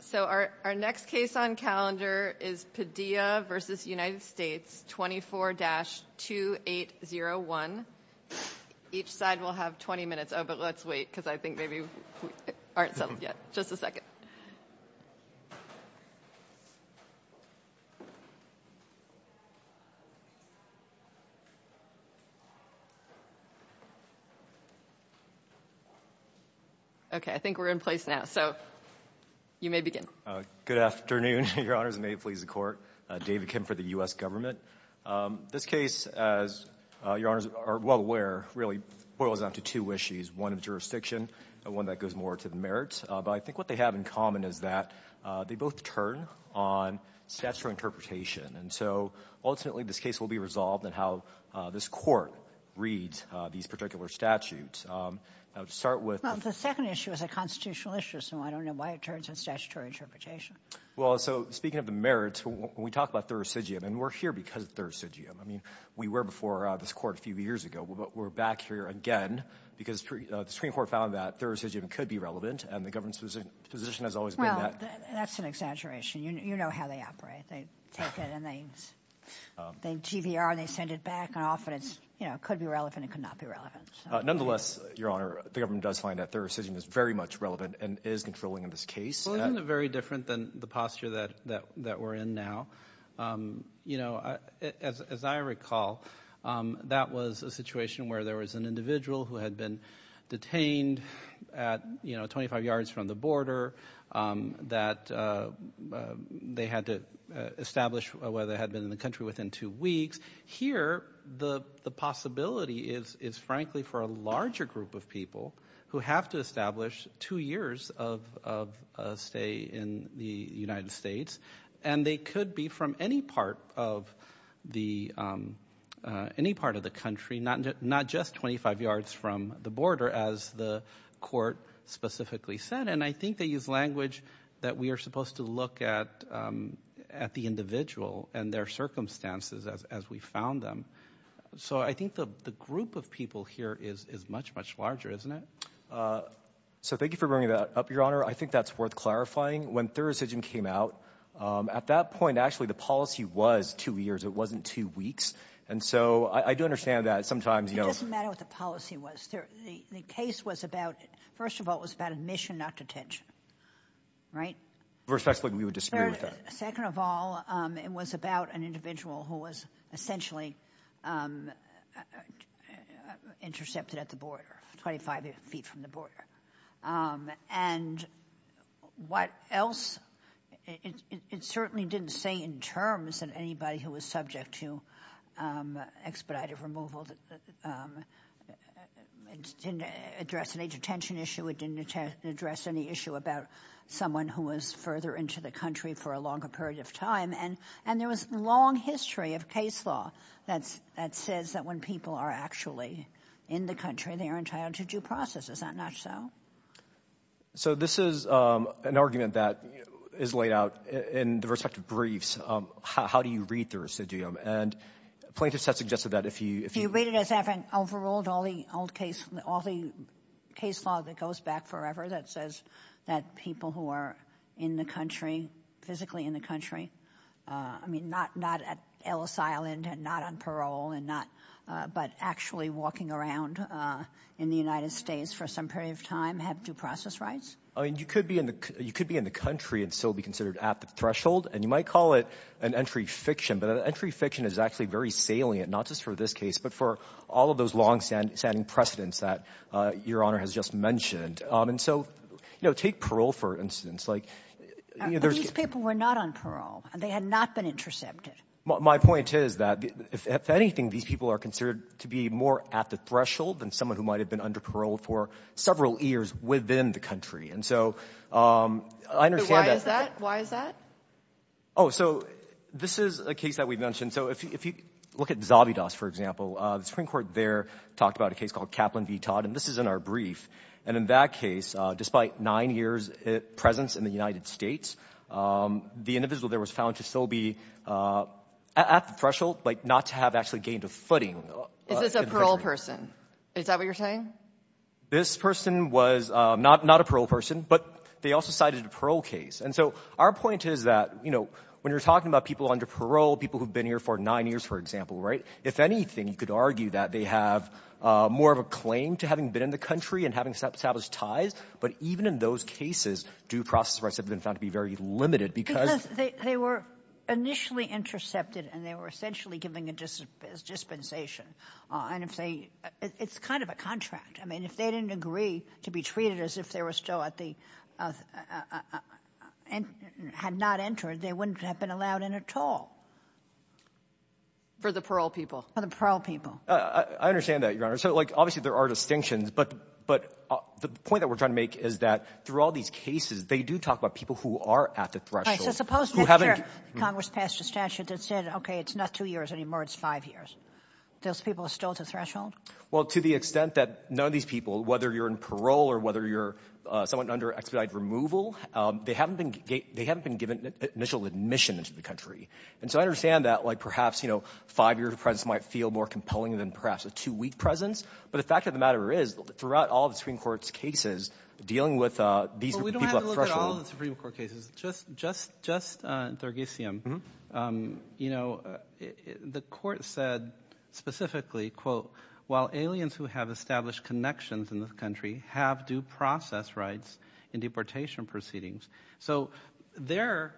So our next case on calendar is Padilla v. United States, 24-2801. Each side will have 20 minutes. Oh, but let's wait, because I think maybe we aren't done yet. Just a second. Okay, I think we're in place now, so you may begin. Good afternoon, Your Honors, and may it please the Court. David Kim for the U.S. Government. This case, as Your Honors are well aware, really boils down to two issues. One is jurisdiction, and one that goes more to the merits, but I think what they have in common is that they both turn on statutory interpretation, and so ultimately this case will be resolved on how this Court reads these particular statutes. Well, the second issue is a constitutional issue, so I don't know why it turns to statutory interpretation. Well, so speaking of the merits, when we talk about the residuum, and we're here because of the residuum. I mean, we were before this Court a few years ago, but we're back here again because the Supreme Court found that the residuum could be relevant, and the government's position has always been that. Well, that's an exaggeration. You know how they operate. They take it, and they TBR, and they send it back off, and it could be relevant. It could not be relevant. Nonetheless, Your Honor, the government does find that the residuum is very much relevant and is controlling this case. Well, isn't it very different than the posture that we're in now? You know, as I recall, that was a situation where there was an individual who had been detained at, you know, 25 yards from the border, that they had to establish where they had been in the country within two weeks. Here, the possibility is, frankly, for a larger group of people who have to establish two years of stay in the United States, and they could be from any part of the country, not just 25 yards from the border, as the Court specifically said. And I think they use language that we are supposed to look at the individual and their circumstances as we found them. So I think the group of people here is much, much larger, isn't it? So thank you for bringing that up, Your Honor. I think that's worth clarifying. When Thurisdgian came out, at that point, actually, the policy was two years. It wasn't two weeks. And so I do understand that. It doesn't matter what the policy was. The case was about, first of all, it was about admission, not detention. Right? Second of all, it was about an individual who was essentially intercepted at the border, 25 feet from the border. And what else? It certainly didn't say in terms that anybody who was subject to expedited removal didn't address any detention issue. It didn't address any issue about someone who was further into the country for a longer period of time. And there was a long history of case law that says that when people are actually in the country, they are entitled to due process. Is that not so? So this is an argument that is laid out in the respective briefs. How do you read Thurisdgian? And plaintiffs have suggested that if you... Plaintiffs haven't overruled all the old case, all the case law that goes back forever that says that people who are in the country, physically in the country, I mean, not at Ellis Island and not on parole, but actually walking around in the United States for some period of time have due process rights? I mean, you could be in the country and still be considered at the threshold. And you might call it an entry fiction, but entry fiction is actually very salient, not just for this case, but for all of those longstanding precedents that Your Honor has just mentioned. And so, you know, take parole, for instance. These people were not on parole. They had not been intercepted. My point is that if anything, these people are considered to be more at the threshold than someone who might have been under parole for several years within the country. And so... Why is that? Oh, so this is a case that we've mentioned. So if you look at Zabidas, for example, the Supreme Court there talked about a case called Kaplan v. Todd, and this is in our brief. And in that case, despite nine years' presence in the United States, the individual there was found to still be at the threshold, but not to have actually gained a footing. Is this a parole person? Is that what you're saying? This person was not a parole person, but they also cited a parole case. And so our point is that, you know, when you're talking about people under parole, people who've been here for nine years, for example, right, if anything, you could argue that they have more of a claim to having been in the country and having established ties. But even in those cases, due process arrests have been found to be very limited because... I mean, if they didn't agree to be treated as if they were still at the... and had not entered, they wouldn't have been allowed in at all. For the parole people. For the parole people. I understand that, Your Honor. So, like, obviously there are distinctions, but the point that we're trying to make is that through all these cases, they do talk about people who are at the threshold. Right, so suppose, Mr. Congress passed a statute that said, okay, it's not two years anymore, it's five years. Those people are still at the threshold? Well, to the extent that none of these people, whether you're in parole or whether you're somewhat under expedited removal, they haven't been given initial admission into the country. And so I understand that, like, perhaps, you know, five-year presence might feel more compelling than perhaps a two-week presence. But the fact of the matter is, throughout all the Supreme Court's cases dealing with these people at threshold... Just, just, just, Dergisim, you know, the court said specifically, quote, while aliens who have established connections in this country have due process rights in deportation proceedings. So there,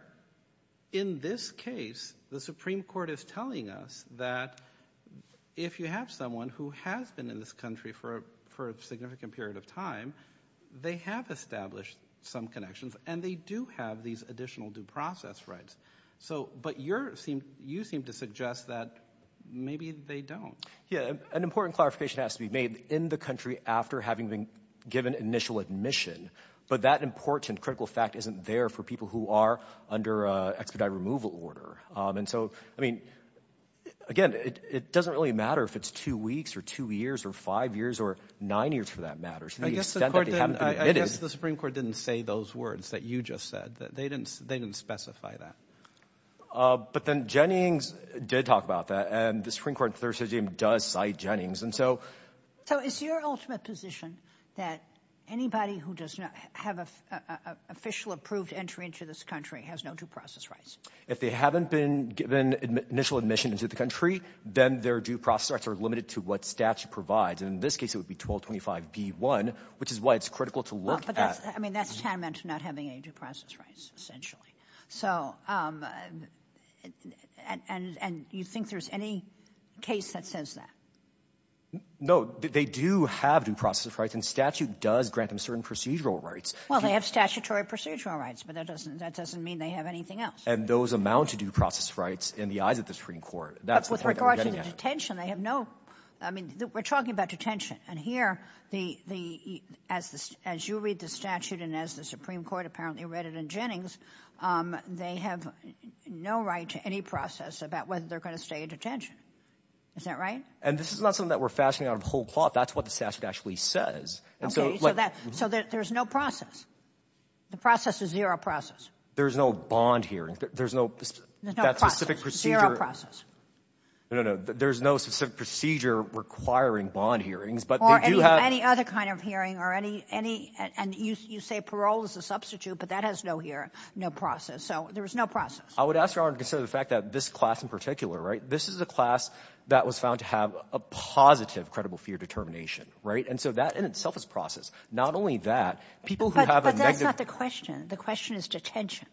in this case, the Supreme Court is telling us that if you have someone who has been in this country for a significant period of time, they have established some connections, and they do have these additional due process rights. So, but you're, you seem to suggest that maybe they don't. Yeah, an important clarification has to be made in the country after having been given initial admission. But that important critical fact isn't there for people who are under expedited removal order. And so, I mean, again, it doesn't really matter if it's two weeks or two years or five years or nine years for that matter. To the extent that they haven't been admitted... I guess the Supreme Court didn't say those words that you just said. They didn't, they didn't specify that. But then Jennings did talk about that, and the Supreme Court's decision does cite Jennings. And so... So it's your ultimate position that anybody who does not have an official approved entry into this country has no due process rights? If they haven't been given initial admission into the country, then their due process rights are limited to what statute provides. In this case, it would be 1225 D1, which is why it's critical to look at. I mean, that's tantamount to not having any due process rights, essentially. So, and you think there's any case that says that? No, they do have due process rights, and statute does grant them certain procedural rights. Well, they have statutory procedural rights, but that doesn't mean they have anything else. And those amount to due process rights in the eyes of the Supreme Court. But with regard to the detention, they have no... I mean, we're talking about detention. And here, as you read the statute, and as the Supreme Court apparently read it in Jennings, they have no right to any process about whether they're going to stay in detention. Is that right? And this is not something that we're fastening on a whole plot. That's what the statute actually says. Okay, so there's no process. The process is zero process. There's no bond hearing. There's no... There's no process. Zero process. No, no, there's no specific procedure requiring bond hearings, but they do have... Or any other kind of hearing, or any... And you say parole is the substitute, but that has no process. So there's no process. I would ask Your Honor to consider the fact that this class in particular, right, this is a class that was found to have a positive credible fear determination, right? And so that in itself is process. Not only that, people who have a negative... But that's not the question. The question is detention.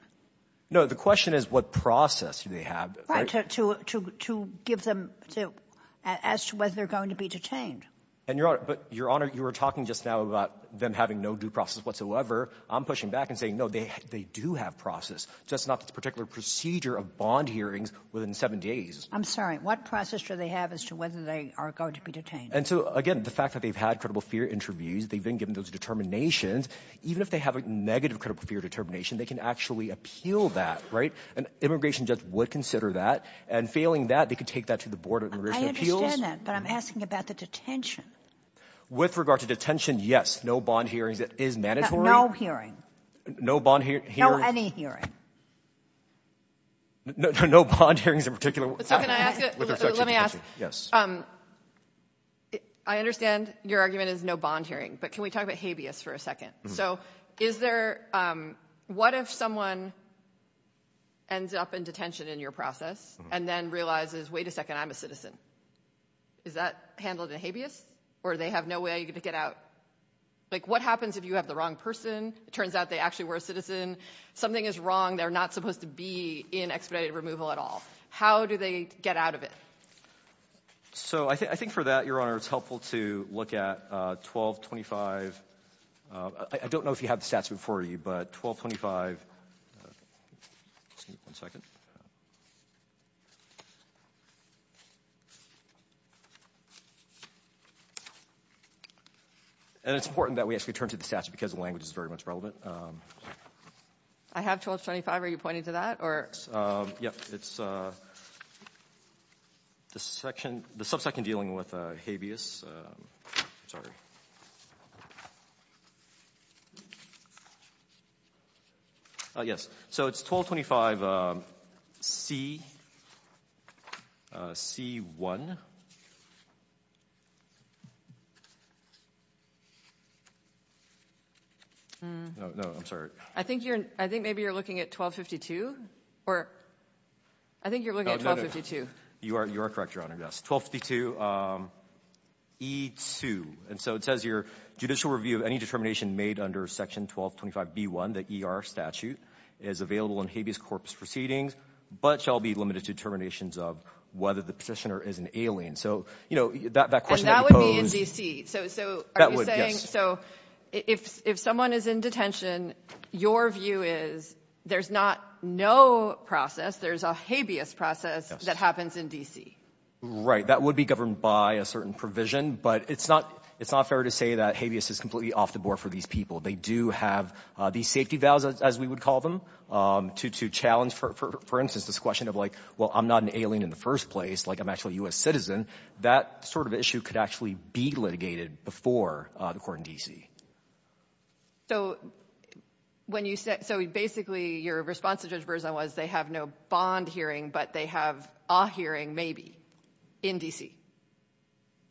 No, the question is what process do they have, right? To ask whether they're going to be detained. And Your Honor, but Your Honor, you were talking just now about them having no due process whatsoever. I'm pushing back and saying, no, they do have process. Just not this particular procedure of bond hearings within seven days. I'm sorry. What process do they have as to whether they are going to be detained? And so, again, the fact that they've had credible fear interviews, they've been given those determinations, even if they have a negative credible fear determination, they can actually appeal that, right? And immigration just would consider that. And failing that, they could take that to the Board of Immigration Appeals. I understand that, but I'm asking about the detention. With regard to detention, yes, no bond hearing is mandatory. No hearing. No bond hearing. No any hearing. No bond hearings in particular. Let me ask. Yes. I understand your argument is no bond hearing, but can we talk about habeas for a second? So is there, what if someone ends up in detention in your process and then realizes, wait a second, I'm a citizen? Is that handled in habeas? Or do they have no way to get out? Like what happens if you have the wrong person? It turns out they actually were a citizen. Something is wrong. They're not supposed to be in expedited removal at all. How do they get out of it? So I think for that, Your Honor, it's helpful to look at 1225. I don't know if you have the stats before you, but 1225. One second. And it's important that we actually turn to the stats because language is very much relevant. I have 1225. Are you pointing to that? Yes. It's the subsection dealing with habeas. Sorry. Yes. So it's 1225 C1. No, I'm sorry. I think maybe you're looking at 1252. I think you're looking at 1252. You are correct, Your Honor. Yes, 1252 E2. Judicial review, any determination made under Section 1225 B1, the ER statute, is available in habeas corpus proceedings, but shall be limited to determinations of whether the petitioner is an alien. And that would be in D.C.? That would, yes. So if someone is in detention, your view is there's not no process, there's a habeas process that happens in D.C.? Right, that would be governed by a certain provision, but it's not fair to say that habeas is completely off the board for these people. They do have these safety valves, as we would call them, to challenge, for instance, this question of like, well, I'm not an alien in the first place, like I'm actually a U.S. citizen. That sort of issue could actually be litigated before the court in D.C. So basically, your response to Judge Berzon was they have no bond hearing, but they have a hearing, maybe, in D.C.?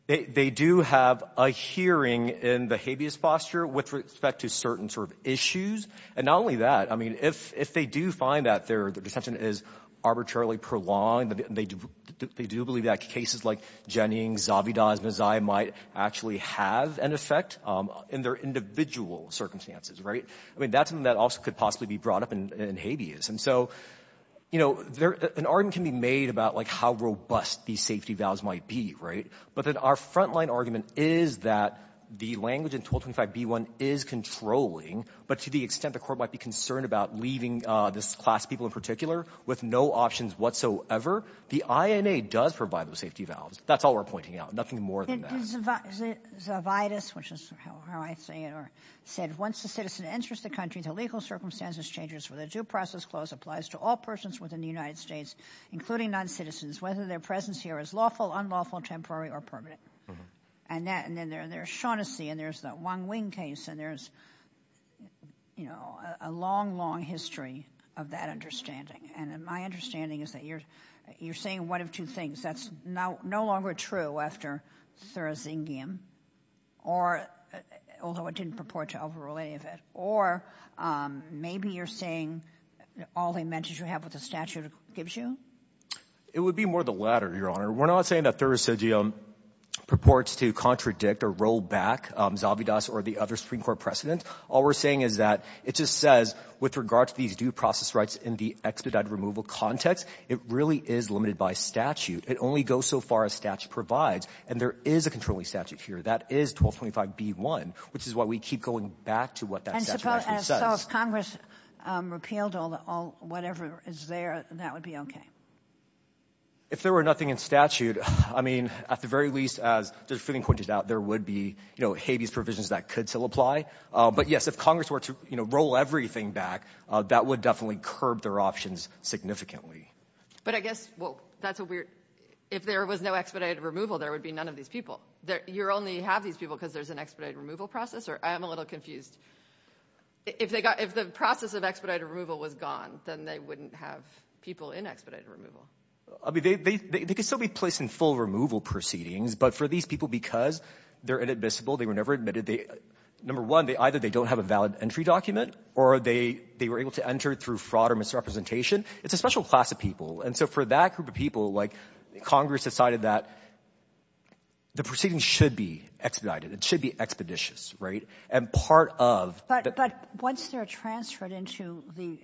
They do have a hearing in the habeas posture with respect to certain sort of issues. And not only that, I mean, if they do find that their detention is arbitrarily prolonged, they do believe that cases like Jennings, Zabida, Nazai might actually have an effect in their individual circumstances, right? I mean, that's something that also could possibly be brought up in habeas. And so, you know, an argument can be made about like how robust these safety valves might be, right? But then our frontline argument is that the language in 1225B1 is controlling, but to the extent the court might be concerned about leaving this class of people in particular with no options whatsoever, the INA does provide those safety valves. That's all we're pointing out, nothing more than that. Judge Zavidas, which is how I say it, said, once a citizen enters the country, the legal circumstances changes, whether due process clause applies to all persons within the United States, including non-citizens, whether their presence here is lawful, unlawful, temporary, or permanent. And then there's Shaughnessy, and there's the Wong Wing case, and there's, you know, a long, long history of that understanding. And my understanding is that you're saying one of two things. That's no longer true after Thurisdium, although it didn't purport to overrule any of it. Or maybe you're saying all the mentions you have with the statute gives you? It would be more the latter, Your Honor. We're not saying that Thurisdium purports to contradict or roll back Zavidas or the other Supreme Court precedents. All we're saying is that it just says with regard to these due process rights in the expedite removal context, it really is limited by statute. It only goes so far as statute provides, and there is a controlling statute here. That is 1225B1, which is why we keep going back to what that statute actually said. And so if Congress repealed all whatever is there, that would be okay? If there were nothing in statute, I mean, at the very least, as the Supreme Court did doubt, there would be, you know, Hades provisions that could still apply. But yes, if Congress were to, you know, roll everything back, that would definitely curb their options significantly. But I guess, well, that's a weird... If there was no expedite removal, there would be none of these people. You only have these people because there's an expedite removal process? I am a little confused. If the process of expedite removal was gone, then they wouldn't have people in expedite removal. I mean, they could still be placed in full removal proceedings, but for these people, because they're inadmissible, they were never admitted, number one, either they don't have a valid entry document, or they were able to enter through fraud or misrepresentation. It's a special class of people. And so for that group of people, like, Congress decided that the proceedings should be expedited. It should be expeditious, right? And part of... But once they're transferred into the...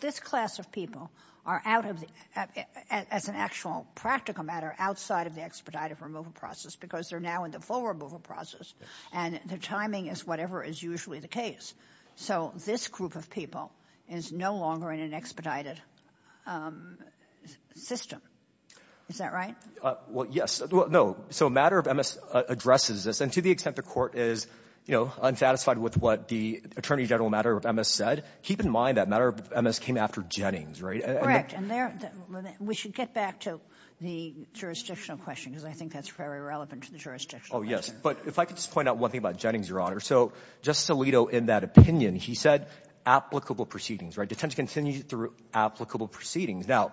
This class of people are out of the... as an actual practical matter, outside of the expedite removal process because they're now in the full removal process, and the timing is whatever is usually the case. So this group of people is no longer in an expedited system. Is that right? Well, yes. No. So a matter of MS addresses this, and to the extent the court is, you know, unsatisfied with what the Attorney General matter of MS said, keep in mind that matter of MS came after Jennings, right? Correct. And there... We should get back to the jurisdictional question because I think that's very relevant to the jurisdictional question. Oh, yes. But if I could just point out one thing about Jennings, Your Honor. So Justice Alito, in that opinion, he said, applicable proceedings, right? To tend to continue through applicable proceedings. Now,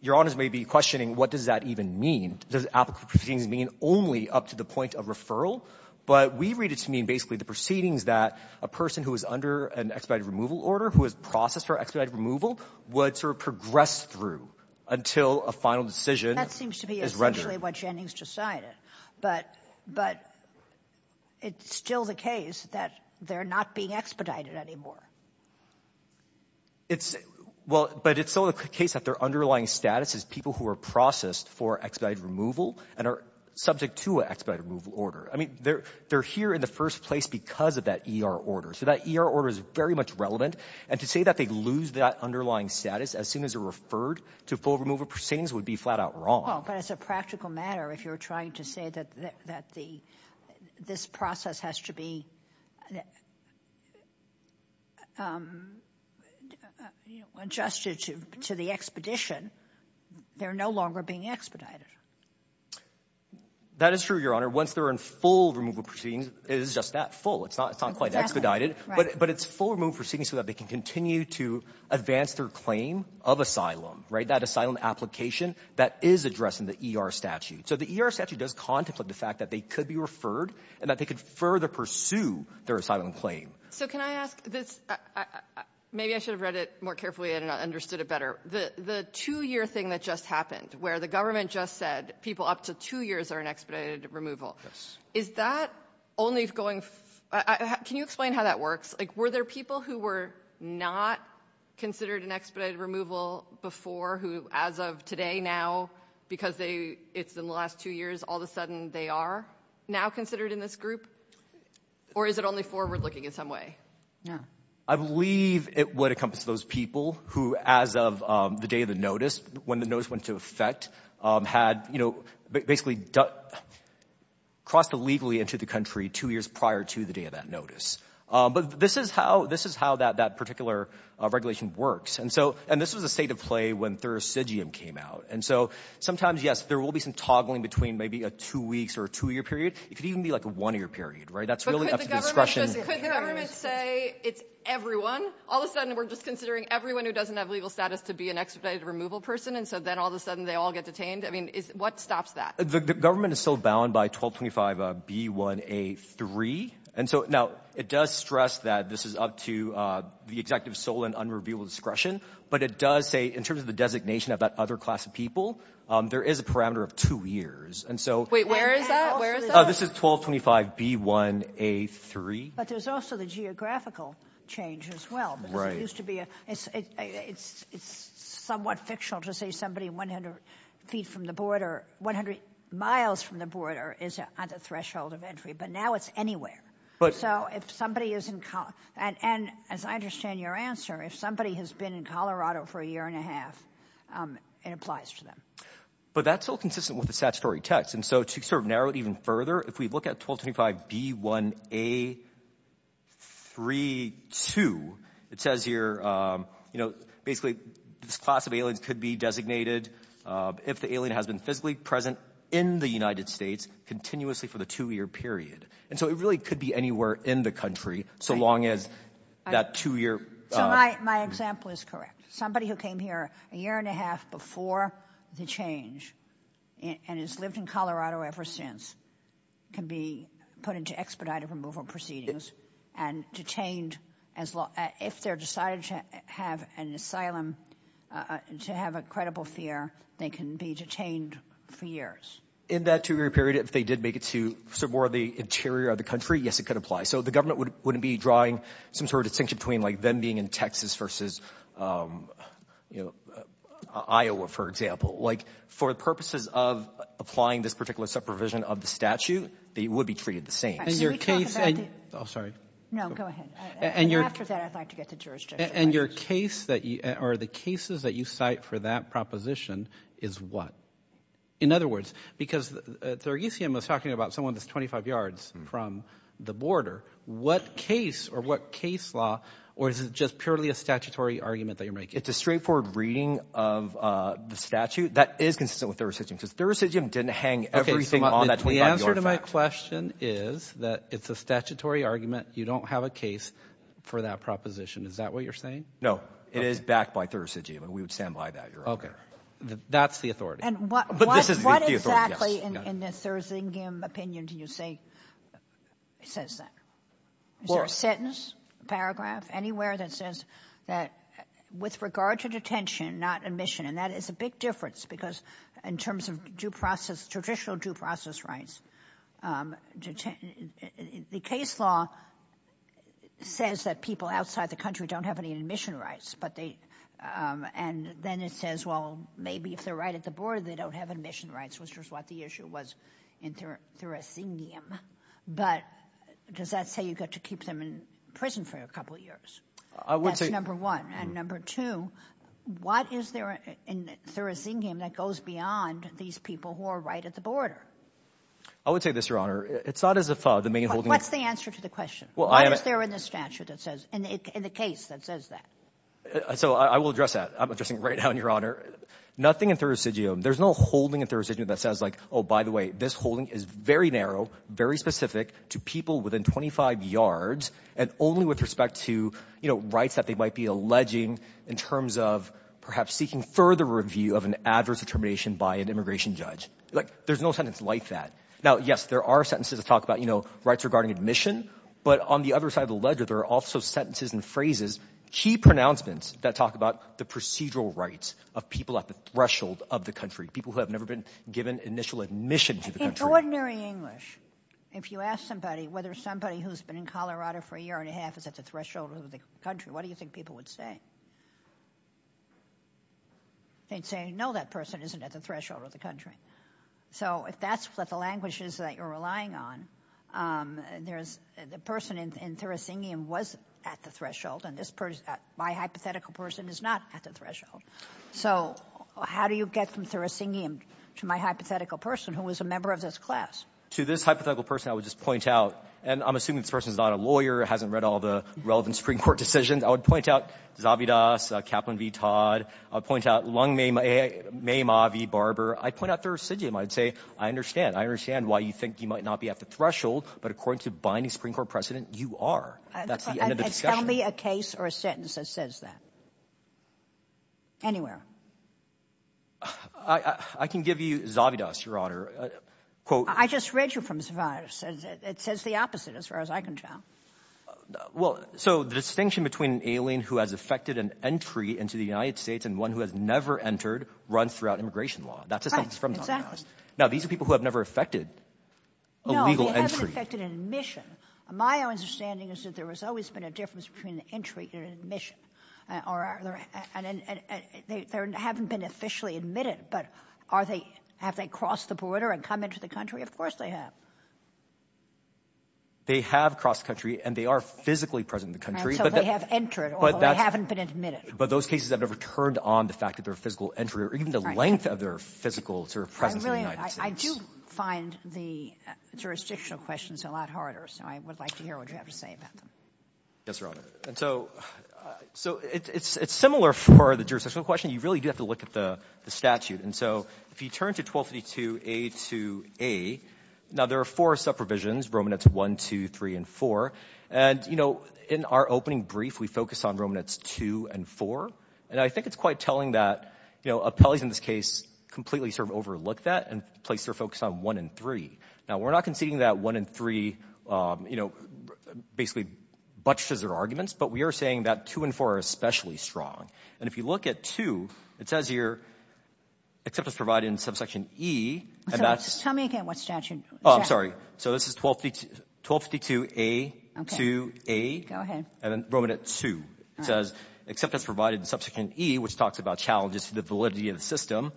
Your Honors may be questioning, what does that even mean? Does applicable proceedings mean only up to the point of referral? But we read it to mean basically the proceedings that a person who is under an expedited removal order, who is processed for expedited removal, would sort of progress through until a final decision is rendered. That seems to be essentially what Jennings decided. But it's still the case that they're not being expedited anymore. Well, but it's still the case that their underlying status is people who are processed for expedited removal and are subject to an expedited removal order. I mean, they're here in the first place because of that ER order. So that ER order is very much relevant. And to say that they lose that underlying status as soon as they're referred to full removal proceedings would be flat out wrong. Well, but it's a practical matter if you're trying to say that this process has to be adjusted to the expedition. They're no longer being expedited. That is true, Your Honor. Once they're in full removal proceedings, it is just that, full. It's not quite expedited. But it's full removal proceedings so that they can continue to advance their claim of asylum, right? That asylum application that is addressed in the ER statute. So the ER statute does contemplate the fact that they could be referred and that they could further pursue their asylum claim. So can I ask this? Maybe I should have read it more carefully and understood it better. The two-year thing that just happened where the government just said people up to two years are in expedited removal. Is that only going... Can you explain how that works? Like, were there people who were not considered in expedited removal before who, as of today, now, because it's in the last two years, all of a sudden they are now considered in this group? Or is it only forward-looking in some way? I believe it would encompass those people who, as of the day of the notice, when the notice went into effect, had basically crossed illegally into the country two years prior to the day of that notice. But this is how that particular regulation works. And this was the state of play when Thuracidium came out. And so sometimes, yes, there will be some toggling between maybe a two-weeks or a two-year period. It could even be like a one-year period, right? That's really up to the expression... But could the government say it's everyone? All of a sudden we're just considering everyone who doesn't have legal status to be an expedited removal person. And so then all of a sudden they all get detained? I mean, what stops that? The government is still bound by 1225 B1A3. Now, it does stress that this is up to the executive sole and unreviewable discretion. But it does say, in terms of the designation of that other class of people, there is a parameter of two years. Wait, where is that? Where is that? This is 1225 B1A3. But there's also the geographical change as well. It's somewhat fictional to say somebody 100 feet from the border, 100 miles from the border is at the threshold of entry. But now it's anywhere. So if somebody is in... And as I understand your answer, if somebody has been in Colorado for a year and a half, it applies to them. But that's still consistent with the statutory text. And so to sort of narrow it even further, if we look at 1225 B1A3-2, it says here, basically, this class of alien could be designated if the alien has been physically present in the United States continuously for the two-year period. And so it really could be anywhere in the country so long as that two-year... My example is correct. Somebody who came here a year and a half before the change and has lived in Colorado ever since can be put into expedited removal proceedings and detained as long... If they're decided to have an asylum, to have a credible fear, they can be detained for years. In that two-year period, if they did make it to somewhere in the interior of the country, yes, it could apply. But it can be drawing some sort of distinction between them being in Texas versus Iowa, for example. Like, for purposes of applying this particular supervision of the statute, they would be treated the same. And your case... Oh, sorry. No, go ahead. And after that, I'd like to get to jurisdiction. And your case that... Or the cases that you cite for that proposition is what? In other words, because Thurgesian was talking about someone that's 25 yards from the border. What case or what case law or is it just purely a statutory argument that you're making? It's a straightforward reading of the statute that is consistent with Thurgesian because Thurgesian didn't hang everything on that... The answer to my question is that it's a statutory argument. You don't have a case for that proposition. Is that what you're saying? No, it is backed by Thurgesian and we would stand by that. Okay, that's the authority. But this is the authority. And what exactly in the Thurgesian opinion do you think says that? Is there a sentence, paragraph, anywhere that says that with regard to detention, not admission, and that is a big difference because in terms of due process, traditional due process rights, the case law says that people outside the country don't have any admission rights, and then it says, well, maybe if they're right at the border they don't have admission rights, which is what the issue was in Thurgesian. But does that say you've got to keep them in prison for a couple of years? That's number one. And number two, what is there in Thurgesian that goes beyond these people who are right at the border? I would say this, Your Honor. It's not as if... What's the answer to the question? What is there in the statute that says, so I will address that. I'm addressing right now, Your Honor. Nothing in Thurgesian. There's no holding in Thurgesian that says, oh, by the way, this holding is very narrow, very specific to people within 25 yards and only with respect to rights that they might be alleging in terms of perhaps seeking further review of an adverse determination by an immigration judge. There's no sentence like that. Now, yes, there are sentences that talk about rights regarding admission, but on the other side of the ledger there are also sentences and phrases, key pronouncements that talk about the procedural rights of people at the threshold of the country, people who have never been given initial admission to the country. In ordinary English, if you ask somebody whether somebody who's been in Colorado for a year and a half is at the threshold of the country, what do you think people would say? They'd say, no, that person isn't at the threshold of the country. So if that's what the language is that you're relying on, the person in Thurisidium wasn't at the threshold, and my hypothetical person is not at the threshold. So how do you get from Thurisidium to my hypothetical person who was a member of this class? To this hypothetical person, I would just point out, and I'm assuming the person's not a lawyer, hasn't read all the relevant Supreme Court decisions, I would point out Zavidas, Kaplan v. Todd, I would point out Lungmayma v. Barber, I'd point out Thurisidium. I'd say, I understand, I understand why you think you might not be at the threshold, but according to binding Supreme Court precedent, you are. That's the end of the discussion. Tell me a case or a sentence that says that. Anywhere. I can give you Zavidas, Your Honor. I just read you from Zavidas. It says the opposite, as far as I can tell. Well, so the distinction between an alien who has effected an entry into the United States and one who has never entered runs throughout immigration law. That's a sentence from Zavidas. Now, these are people who have never effected a legal entry. No, they haven't effected an admission. My understanding is that there has always been a difference between an entry and an admission. They haven't been officially admitted, but have they crossed the border and come into the country? Of course they have. They have crossed the country and they are physically present in the country. So they have entered, although they haven't been admitted. But those cases have never turned on the fact that their physical entry or even the length of their physical presence in the United States. I do find the jurisdictional questions a lot harder, so I would like to hear what you have to say about that. Yes, Your Honor. So it's similar for the jurisdictional question. You really do have to look at the statute. And so if you turn to 1252A2A, now there are four supervisions, Romanets I, II, III, and IV. And in our opening brief, we focused on Romanets II and IV. And I think it's quite telling that appellees in this case completely sort of overlook that and place their focus on I and III. Now, we're not conceding that I and III basically buttresses their arguments, but we are saying that II and IV are especially strong. And if you look at II, it says here, acceptance provided in subsection E. Tell me again what statute. Oh, I'm sorry. So this is 1252A2A. Go ahead. And Romanets II. Acceptance provided in subsequent E, which talks about challenges to the validity of the system.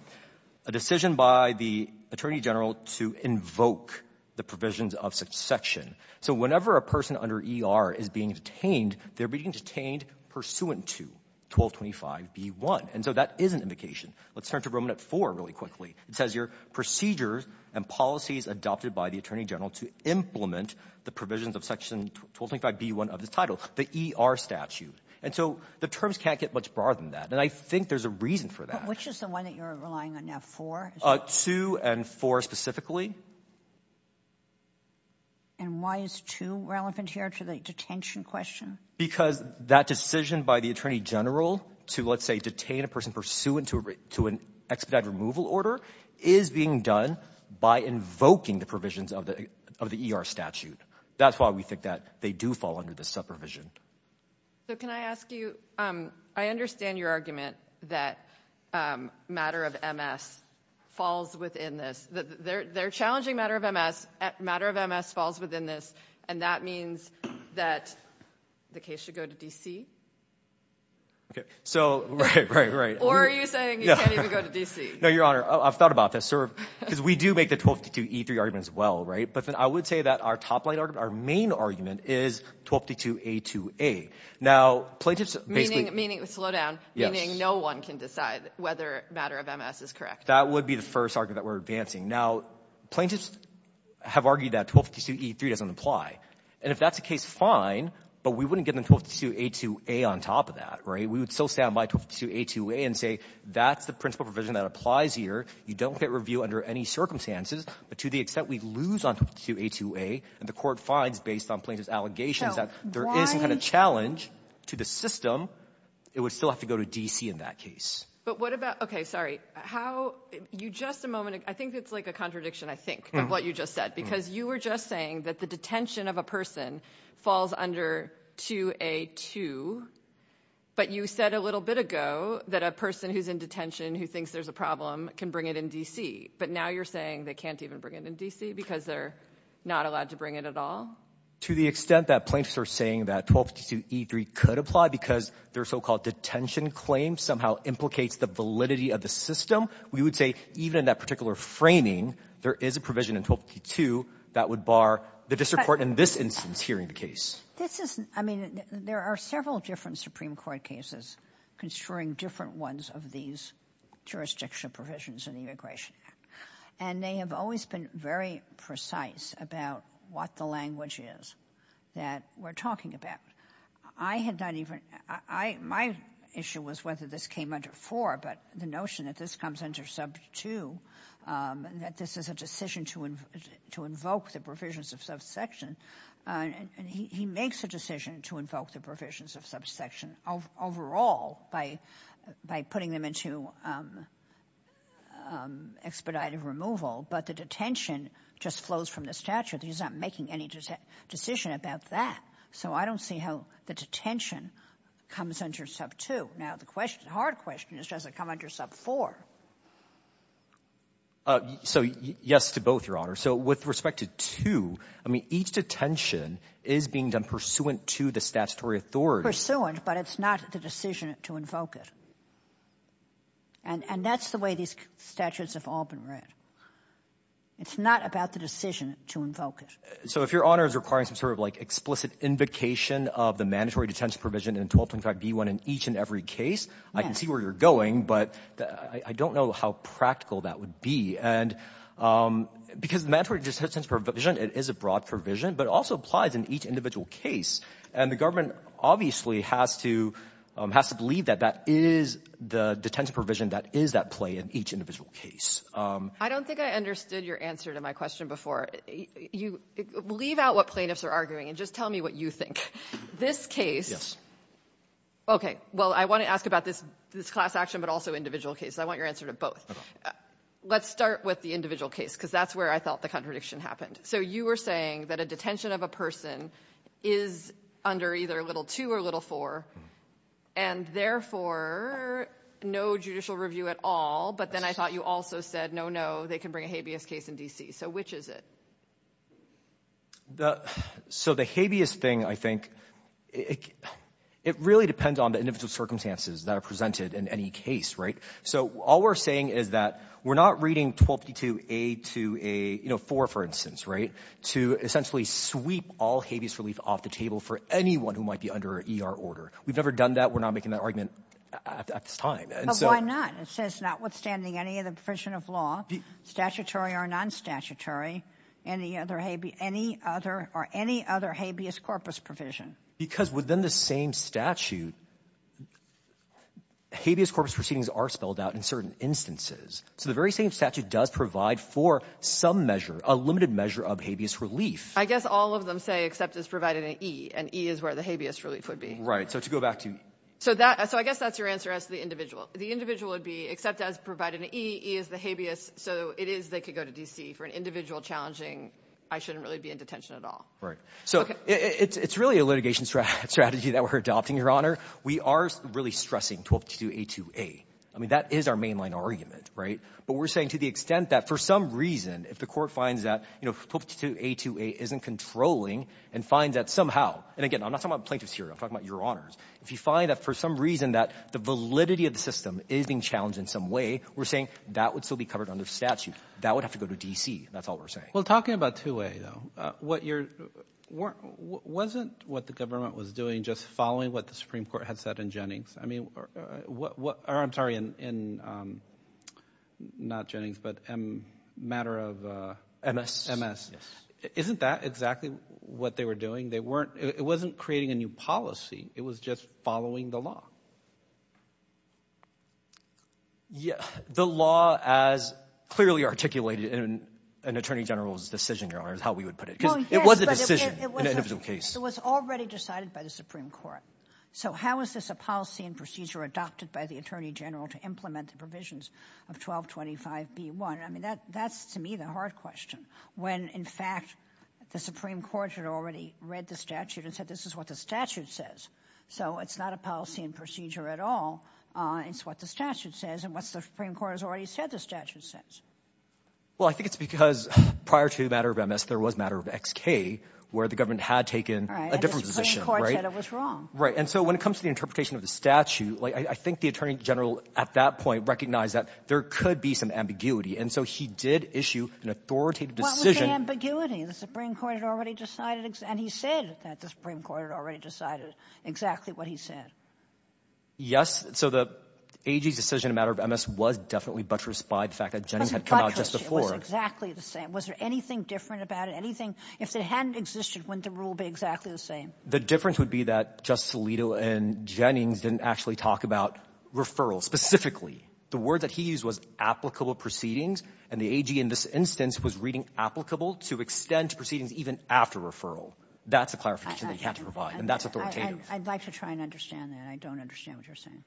A decision by the attorney general to invoke the provisions of section. So whenever a person under ER is being detained, they're being detained pursuant to 1225B1. And so that is an indication. Let's turn to Romanets IV really quickly. It says here, procedures and policies adopted by the attorney general to implement the provisions of section 1225B1 of the title, the ER statute. And so the terms can't get much broader than that. And I think there's a reason for that. Which is the one that you're relying on now, IV? II and IV specifically. And why is II relevant here to the detention question? Because that decision by the attorney general to, let's say, detain a person pursuant to an expedited removal order is being done by invoking the provisions of the ER statute. That's why we think that they do fall under this subprovision. Can I ask you, I understand your argument that matter of MS falls within this. They're challenging matter of MS. Matter of MS falls within this. And that means that the case should go to DC? Right, right, right. Or are you saying you can't even go to DC? No, Your Honor, I've thought about this. Because we do make the 1222E3 argument as well, right? But then I would say that our top line argument, our main argument is 1222A2A. Meaning, slow down, meaning no one can decide whether matter of MS is correct. That would be the first argument that we're advancing. Now, plaintiffs have argued that 1222E3 doesn't apply. And if that's the case, fine. But we wouldn't get into 1222A2A on top of that, right? We would still stand by 1222A2A and say that's the principle provision that applies here. You don't get review under any circumstances. But to the extent we lose on 1222A2A, and the court finds based on plaintiff's allegations that there isn't a challenge to the system, it would still have to go to DC in that case. But what about, okay, sorry. How, you just a moment, I think it's like a contradiction, I think, of what you just said. Because you were just saying that the detention of a person falls under 2A2. But you said a little bit ago that a person who's in detention who thinks there's a problem can bring it in DC. But now you're saying they can't even bring it in DC because they're not allowed to bring it at all? To the extent that plaintiffs are saying that 1222E3 could apply because their so-called detention claim somehow implicates the validity of the system, we would say even that particular framing, there is a provision in 1222 that would bar the district court in this instance hearing the case. This is, I mean, there are several different Supreme Court cases construing different ones of these jurisdictional provisions in the Immigration Act. And they have always been very precise about what the language is that we're talking about. I had not even, my issue was whether this came under 4, but the notion that this comes under sub 2 and that this is a decision to invoke the provisions of subsection. And he makes a decision to invoke the provisions of subsection overall by putting them into expedited removal. But the detention just flows from the statute. He's not making any decisions about that. So I don't see how the detention comes under sub 2. Now the hard question is does it come under sub 4? So yes to both, Your Honor. So with respect to 2, I mean, each detention is being done pursuant to the statutory authority. Pursuant, but it's not the decision to invoke it. And that's the way these statutes have all been read. It's not about the decision to invoke it. So if Your Honor is requiring some sort of like explicit invocation of the mandatory detention provision in 1225B1 in each and every case, I can see where you're going, but I don't know how practical that would be. And because mandatory detention provision is a broad provision, but also applies in each individual case. And the government obviously has to believe that that is the detention provision that is at play in each individual case. I don't think I understood your answer to my question before. Leave out what plaintiffs are arguing and just tell me what you think. This case, okay, well, I want to ask about this class action, but also individual cases. I want your answer to both. Let's start with the individual case because that's where I felt the contradiction happened. So you were saying that a detention of a person is under either little 2 or little 4, and therefore no judicial review at all. But then I thought you also said, no, no, they can bring a habeas case in DC. So which is it? So the habeas thing, I think, it really depends on the individual circumstances that are presented in any case, right? So all we're saying is that we're not reading 1252A-4, for instance, right, to essentially sweep all habeas relief off the table for anyone who might be under ER order. We've never done that. We're not making that argument at this time. But why not? It says notwithstanding any other provision of law, statutory or non-statutory, any other habeas corpus provision. Because within the same statute, habeas corpus proceedings are spelled out in certain instances. So the very same statute does provide for some measure, a limited measure of habeas relief. I guess all of them say, except it's provided an E, and E is where the habeas relief would be. Right, so to go back to... So I guess that's your answer as to the individual. Right. So it's really a litigation strategy that we're adopting, Your Honor. We are really stressing 1252A-2A. I mean, that is our mainline argument, right? But we're saying to the extent that for some reason, if the court finds that, you know, 1252A-2A isn't controlling, and find that somehow, and again, I'm not talking about plaintiffs here. I'm talking about Your Honors. If you find that for some reason that the validity of the system is being challenged in some way, we're saying that would still be covered under the statute. That would have to go to DC. That's all we're saying. Well, talking about 2A, though, wasn't what the government was doing just following what the Supreme Court had said in Jennings? I mean, or I'm sorry, in, not Jennings, but matter of MS. Isn't that exactly what they were doing? It wasn't creating a new policy. It was just following the law. Yes, the law as clearly articulated in an Attorney General's decision, Your Honor, is how we would put it. It was a decision in an individual case. It was already decided by the Supreme Court. So how is this a policy and procedure adopted by the Attorney General to implement the provisions of 1225B-1? I mean, that's, to me, the hard question when, in fact, the Supreme Court had already read the statute and said this is what the statute says. So it's not a policy and procedure. It's not a policy and procedure at all. It's what the statute says and what the Supreme Court has already said the statute says. Well, I think it's because prior to the matter of MS, there was a matter of XK where the government had taken a different position. Right, and the Supreme Court said it was wrong. Right, and so when it comes to the interpretation of the statute, I think the Attorney General at that point recognized that there could be some ambiguity. And so he did issue an authoritative decision. What was the ambiguity? The Supreme Court had already decided and he said that the Supreme Court had already decided exactly what he said. Yes, so the AG's decision in the matter of MS was definitely buttressed by the fact that Jennings had come out just before. It was exactly the same. Was there anything different about it? If it hadn't existed, wouldn't the rule be exactly the same? The difference would be that Justice Alito and Jennings didn't actually talk about referrals specifically. The word that he used was applicable proceedings and the AG in this instance said no, that's a clarification that you have to provide and that's authoritative. I'd like to try and understand that. I don't understand what you're saying.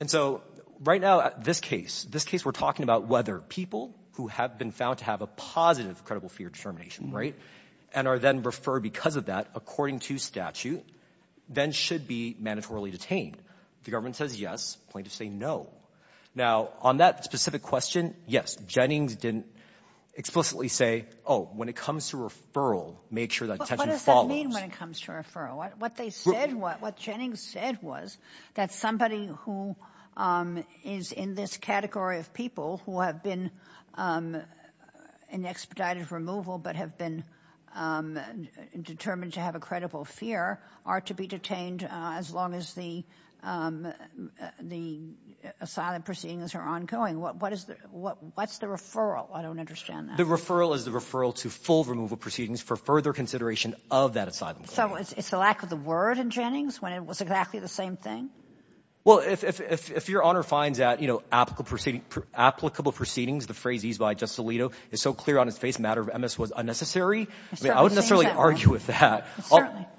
And so right now at this case, this case we're talking about whether people who have been found to have a positive credible fear determination and are then referred because of that according to statute then should be mandatorily detained. If the government says yes, it's a point to say no. Now on that specific question, yes, Jennings didn't explicitly say that that's what it follows. What does that mean when it comes to referral? What Jennings said was that somebody who is in this category of people who have been in expedited removal but have been determined to have a credible fear are to be detained as long as the asylum proceedings are ongoing. What's the referral? I don't understand that. The referral is the referral of that asylum case. So it's a lack of the word in Jennings when it was exactly the same thing? Well, if your Honor finds that, applicable proceedings, the phrase used by Justice Alito is so clear on its face a matter of MS was unnecessary, I wouldn't necessarily argue with that.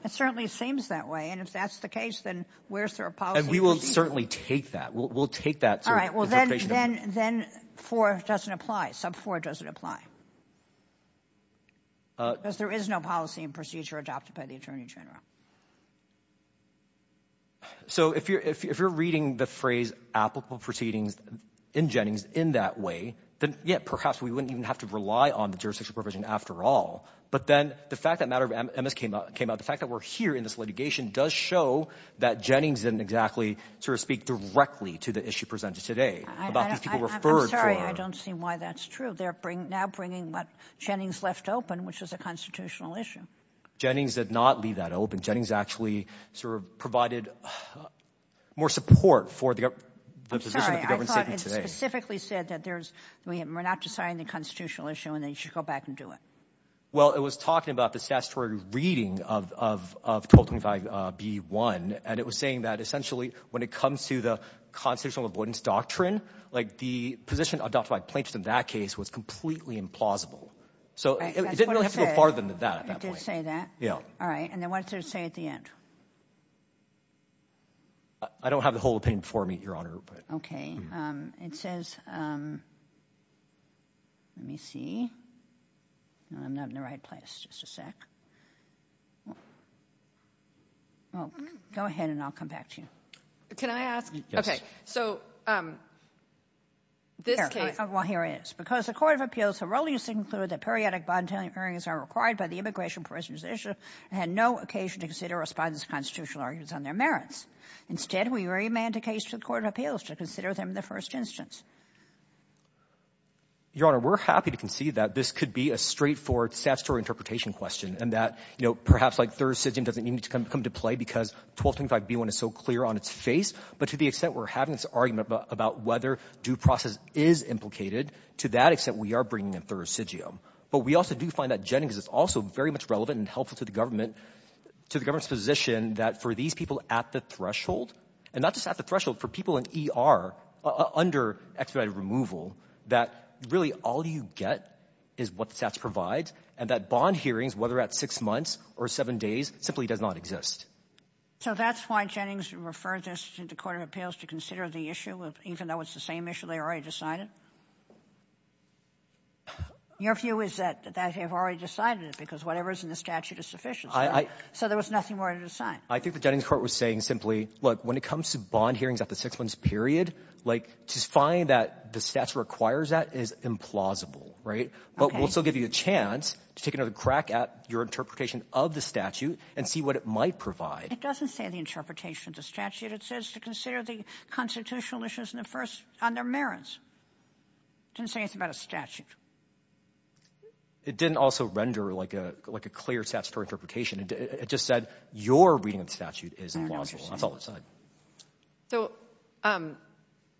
It certainly seems that way and if that's the case, then where's their policy? And we will certainly take that. We'll take that. All right. Then 4 doesn't apply. Sub 4 doesn't apply. Because there is no policy and procedure adopted by the Attorney General. So if you're reading the phrase applicable proceedings in Jennings in that way, then perhaps we wouldn't even have to rely on the jurisdiction provision after all. But then the fact that a matter of MS came up, the fact that we're here in this litigation does show that Jennings didn't exactly speak directly to the issue presented today. I'm sorry. I don't see why that's true. They're now bringing what Jennings left open, which is a constitutional issue. Jennings did not leave that open. Jennings actually provided more support for the position of the government today. I thought it specifically said that we're not deciding the constitutional issue and then you should go back and do it. Well, it was talking about the statutory reading of 1225B1 and it was saying that essentially when it comes to the constitutional avoidance doctrine, the position adopted by Plankton in that case was completely implausible. So it didn't really have to go farther than that. It did say that? Yeah. All right. And then what does it say at the end? I don't have the whole opinion for me, Your Honor. Okay. It says... Let me see. I'm not in the right place. Just a sec. Go ahead and I'll come back to you. Can I ask? So, this case... Well, here it is. Because the Court of Appeals thoroughly stated that periodic bond-telling hearings are required by the Immigration Prisoners' Initiative and had no occasion to consider or respond to constitutional arguments on their merits. Instead, we re-mandicated to the Court of Appeals to consider them the first instance. Your Honor, we're happy to concede that this could be a straightforward statutory interpretation question and that perhaps their decision doesn't need to come to play because 1235B1 is so clear on its face. But to the extent we're having this argument about whether due process is implicated, to that extent we are bringing in thoracidium. But we also do find that Jennings is also very much relevant and helpful to the government's position that for these people at the threshold, and not just at the threshold, for people in ER under expedited removal, that really all you get is what the stats provide and that bond hearings, whether at six months or seven days, simply does not exist. So that's why Jennings referred this to the Court of Appeals to consider the issue even though it's the same issue they already decided? Your view is that they've already decided it because whatever's in the statute is sufficient. So there was nothing more to decide. I think that Jennings Court was saying simply, look, when it comes to bond hearings at the six months period, to find that the stats require that is implausible. But we'll still give you a chance to take another crack at your interpretation of the statute and see what it might provide. It doesn't say the interpretation of the statute. It says to consider the constitutional issues on their merits. It doesn't say anything about a statute. It didn't also render like a clear stats for interpretation. It just said your reading of the statute is implausible. So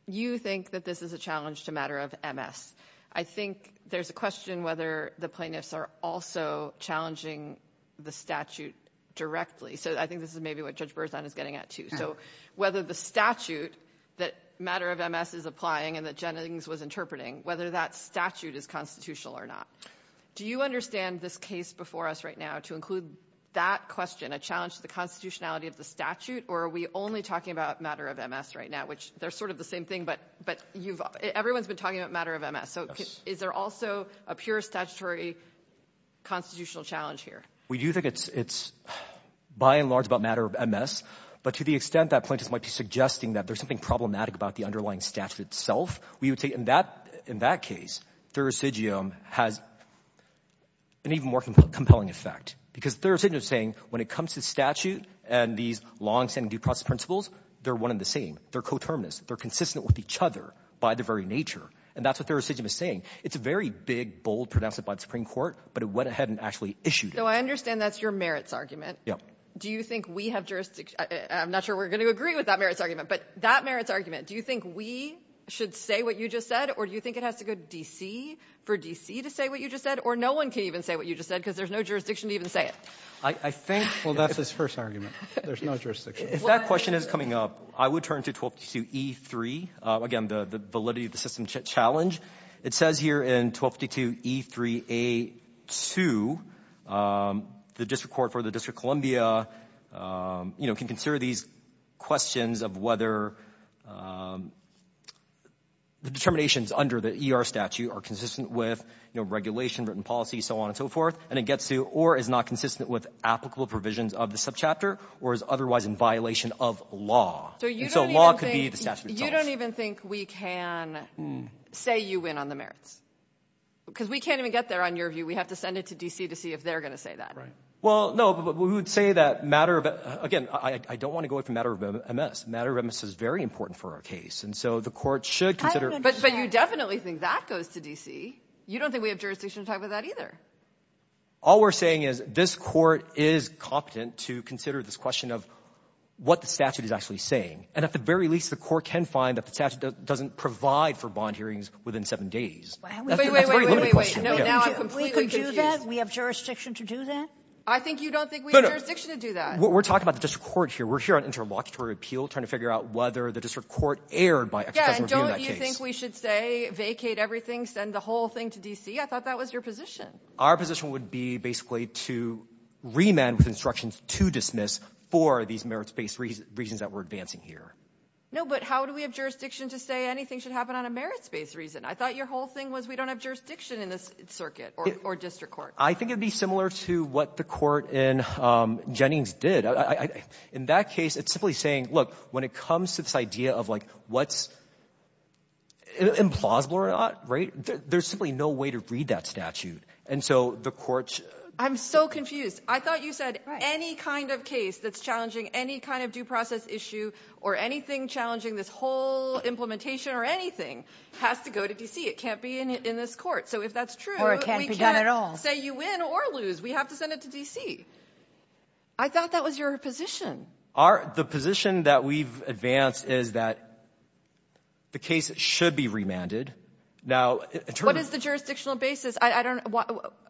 you think that this is a challenge to a matter of MS. I think there's a question whether the plaintiffs are also challenging the statute directly. So I think this is maybe what Judge Berzan is getting at too. So whether the statute that matter of MS is applying and that Jennings was interpreting, whether that statute is constitutional or not. Do you understand this case before us right now to include that question, a challenge to the constitutionality of the statute, or are we only talking about matter of MS right now, which they're sort of the same thing, but everyone's been talking about matter of MS. So is there also a pure statutory constitutional challenge here? We do think it's by and large about matter of MS, but to the extent that plaintiffs might be suggesting that there's something problematic about the underlying statute itself, we would say in that case, Thurisidium has an even more compelling effect because Thurisidium is saying when it comes to statute and these longstanding due process principles, they're one and the same. They're coterminous. They're consistent with each other by their very nature, and that's what Thurisidium is saying. It's a very big, bold pronouncement by the Supreme Court, but it went ahead and actually issued it. I understand that's your merits argument. Do you think we have jurisdiction? I'm not sure we're going to agree with that merits argument, but that merits argument, do you think we should say what you just said, or do you think it has to go to D.C. for D.C. to say what you just said, or no one can even say what you just said because there's no jurisdiction to even say it? Well, that's his first argument. There's no jurisdiction. If that question is coming up, I would turn to 1222E3, again, the validity of the system challenge. It says here in 1222E3A2 that the District Court for the District of Columbia can consider these questions of whether the determinations under the E.R. statute are consistent with regulation, written policy, so on and so forth, and it gets to or is not consistent with applicable provisions of the subchapter or is otherwise in violation of law. So you don't even think we can say you win on the merits because we can't even get there on your view. We have to send it to D.C. to see if they're going to say that. Well, no, we would say that matter of, again, I don't want to go into matter of MS. Matter of MS is very important for our case, and so the court should consider. But you definitely think that goes to D.C. You don't think we have jurisdiction to talk about that either. All we're saying is this court is competent to consider this question of what the statute is actually saying, and at the very least, the court can find that the statute doesn't provide for bond hearings within seven days. Wait, wait, wait. You don't think we have jurisdiction to do that? I think you don't think we have jurisdiction to do that. We're talking about the district court here. We're here at Interim Auditorial Appeal trying to figure out whether the district court erred by a second review of that case. Yeah, and don't you think we should say vacate everything, send the whole thing to D.C.? I thought that was your position. Our position would be basically to remand with instructions to dismiss for these merits-based reasons that we're advancing here. No, but how do we have jurisdiction to say anything should happen on a merits-based reason? I thought your whole thing was pretty similar to what the court in Jennings did. In that case, it's simply saying, look, when it comes to this idea of what's implausible or not, there's simply no way to read that statute. And so the court's... I'm so confused. I thought you said any kind of case that's challenging any kind of due process issue or anything challenging this whole implementation or anything has to go to D.C. It can't be in this court. So if that's true... Or it can't be done at all. We're going to lose. We have to send it to D.C. I thought that was your position. The position that we've advanced is that the case should be remanded. Now, in terms of... What is the jurisdictional basis?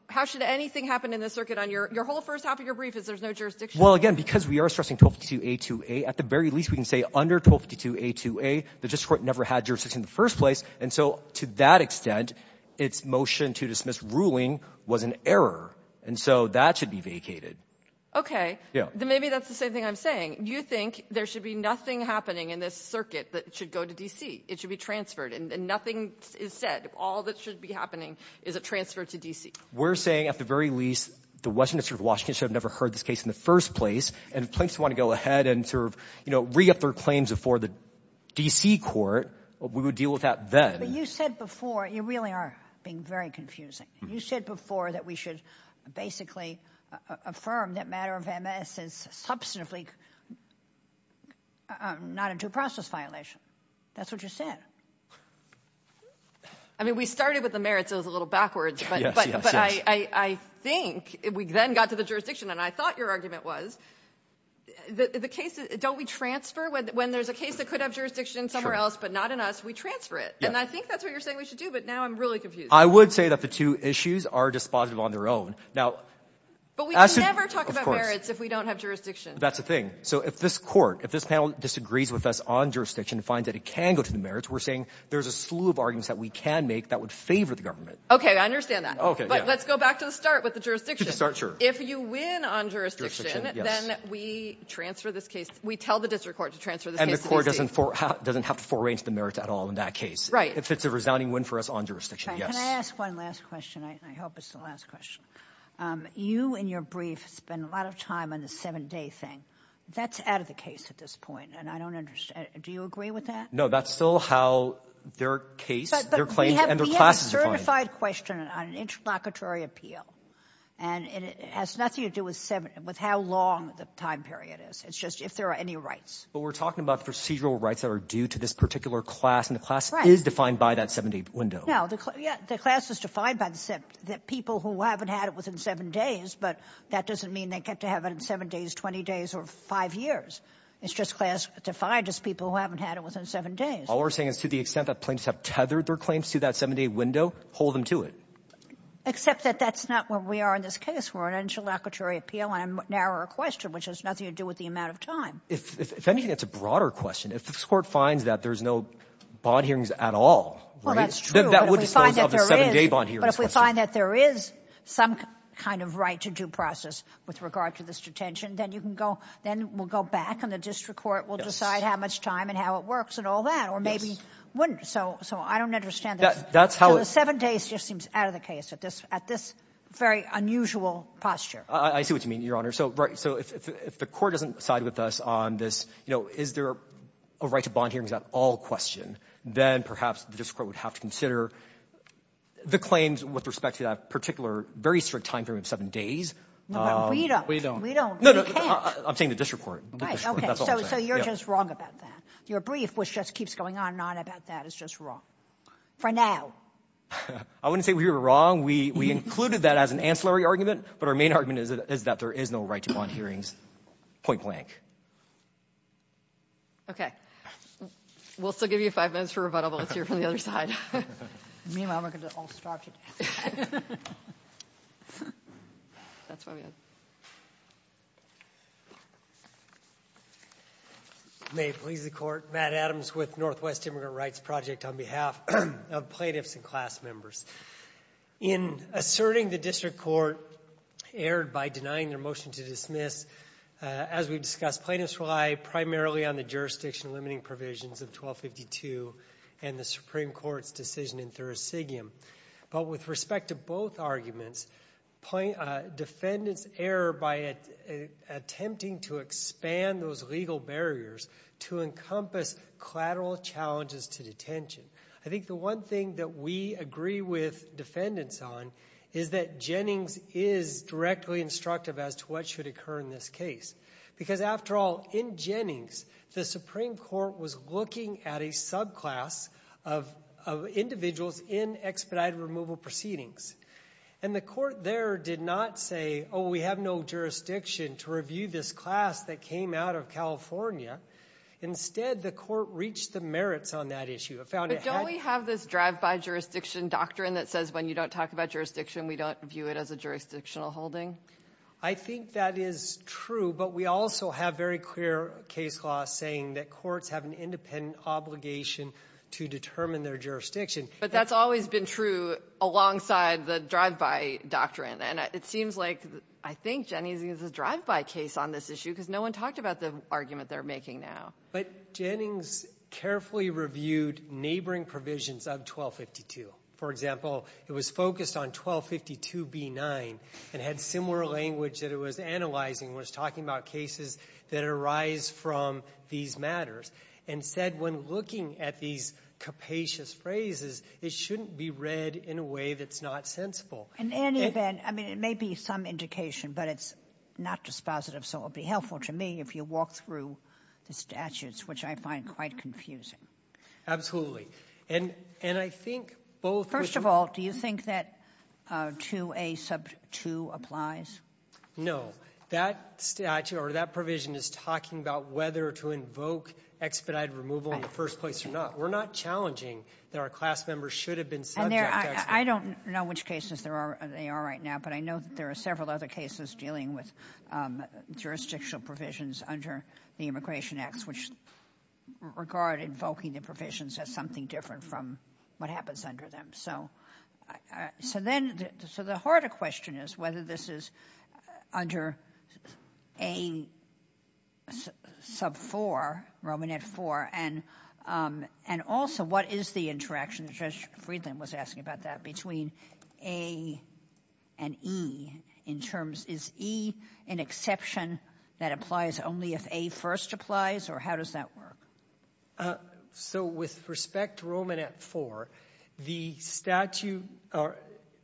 How should anything happen in the circuit on your whole first half of your brief if there's no jurisdiction? Well, again, because we are stressing 1252A2A, at the very least we can say under 1252A2A the district court never had jurisdiction in the first place. And so to that extent, that should be vacated. Okay. Then maybe that's the same thing I'm saying. You think there should be nothing happening in this circuit that should go to D.C.? It should be transferred and nothing is said. All that should be happening is a transfer to D.C.? We're saying at the very least the Western District of Washington should have never heard this case in the first place and plaintiffs want to go ahead and re-up their claims before the D.C. court. We would deal with that then. But you said before... You really are being very confusing. You basically affirmed that matter of MS is substantively not a due process violation. That's what you said. I mean, we started with the merits a little backwards, but I think we then got to the jurisdiction and I thought your argument was... Don't we transfer when there's a case that could have jurisdiction somewhere else but not in us, we transfer it. And I think that's what you're saying we should do, but now I'm really confused. I would say that the two issues are dispositive on their own. But we can never talk about merits if we don't have jurisdiction. That's the thing. So if this panel disagrees with us on jurisdiction and finds that it can go to the merits, we're saying there's a slew of arguments that we can make that would favor the government. Okay, I understand that. Let's go back to the start with the jurisdiction. If you win on jurisdiction, then we tell the district court to transfer the case to D.C. And the court doesn't have to foray into the merits at all in that case and that's the purpose of the last question. You in your brief spend a lot of time on the seven-day thing. That's out of the case at this point and I don't understand. Do you agree with that? No, that's still how their case, their claim and their class is defined. But we have a certified question on interlocutory appeal and it has nothing to do with how long the time period is. It's just if there are any rights. But we're talking about procedural rights that are due to this particular class as people who haven't had it within seven days. But that doesn't mean they get to have it in seven days, 20 days or five years. It's just class defined as people who haven't had it within seven days. All we're saying is to the extent that claims have tethered their claims to that seven-day window, hold them to it. Except that that's not where we are in this case. We're on interlocutory appeal and a narrower question which has nothing to do with the amount of time. It's a broader question. If the court finds that there's no bond hearings at all. Well, that's true. If there is some kind of right to due process with regard to this detention, then we'll go back and the district court will decide how much time and how it works and all that. Or maybe it wouldn't. So I don't understand it. Seven days just seems out of the case at this very unusual posture. I see what you mean, Your Honor. So if the court doesn't side with us on this, is there a right to bond hearings at all question, then perhaps the district court would have to consider the claims with respect to that particular very strict time period of seven days. No, we don't. I'm saying the district court. So you're just wrong about that. Your brief which just keeps going on and on about that is just wrong. For now. I wouldn't say we were wrong. We included that as an ancillary argument, but our main argument is that there is no right to bond hearings. Point blank. Okay. We'll still give you five minutes for rebuttals if you're from the other side. Meanwhile, we're going to all stop you. That's what I'm going to do. May it please the court. Matt Adams with Northwest Immigrant Rights Project on behalf of plaintiffs and class members. In asserting the district court erred by denying their motion to dismiss, as we discussed, plaintiffs rely primarily on the jurisdiction limiting provisions of 1252 and the Supreme Court's decision in Thursigium. But with respect to both arguments, defendants err by attempting to expand those legal barriers to encompass collateral challenges to detention. I think the one thing that we agree with defendants on is that Jennings is directly instructive as to what should occur in this case. Because after all, in Jennings, the Supreme Court was looking at a summary or a subclass of individuals in expedited removal proceedings. And the court there did not say, oh, we have no jurisdiction to review this class that came out of California. Instead, the court reached the merits on that issue. But don't we have this drive-by jurisdiction doctrine that says when you don't talk about jurisdiction, we don't view it as a jurisdictional holding? I think that is true. But we also have very clear case law saying that courts have an independent obligation to determine their jurisdiction. But that's always been true alongside the drive-by doctrine. And it seems like, I think, Jennings uses a drive-by case on this issue because no one talked about the argument they're making now. But Jennings carefully reviewed neighboring provisions of 1252. For example, it was focused on 1252b9 and had similar language that it was analyzing. It was talking about cases that arise from these matters. Instead, when looking at these capacious phrases, it shouldn't be read in a way that's not sensible. In any event, I mean, it may be some indication, but it's not dispositive, so it would be helpful to me if you walk through the statutes, which I find quite confusing. Absolutely. First of all, do you think that 2a sub 2 applies? No. So that provision is talking about whether to invoke expedite removal in the first place or not. We're not challenging that our class members should have been subject to expedite removal. I don't know which cases they are right now, but I know there are several other cases dealing with jurisdictional provisions under the Immigration Acts, which regard invoking the provisions as something different from what happens under them. So the harder question is whether this is under a sub 4, Romanet 4, and also what is the interaction, Judge Friedland was asking about that, between a and e in terms, is e an exception that applies only if a first applies, or how does that work? So with respect to Romanet 4, the statute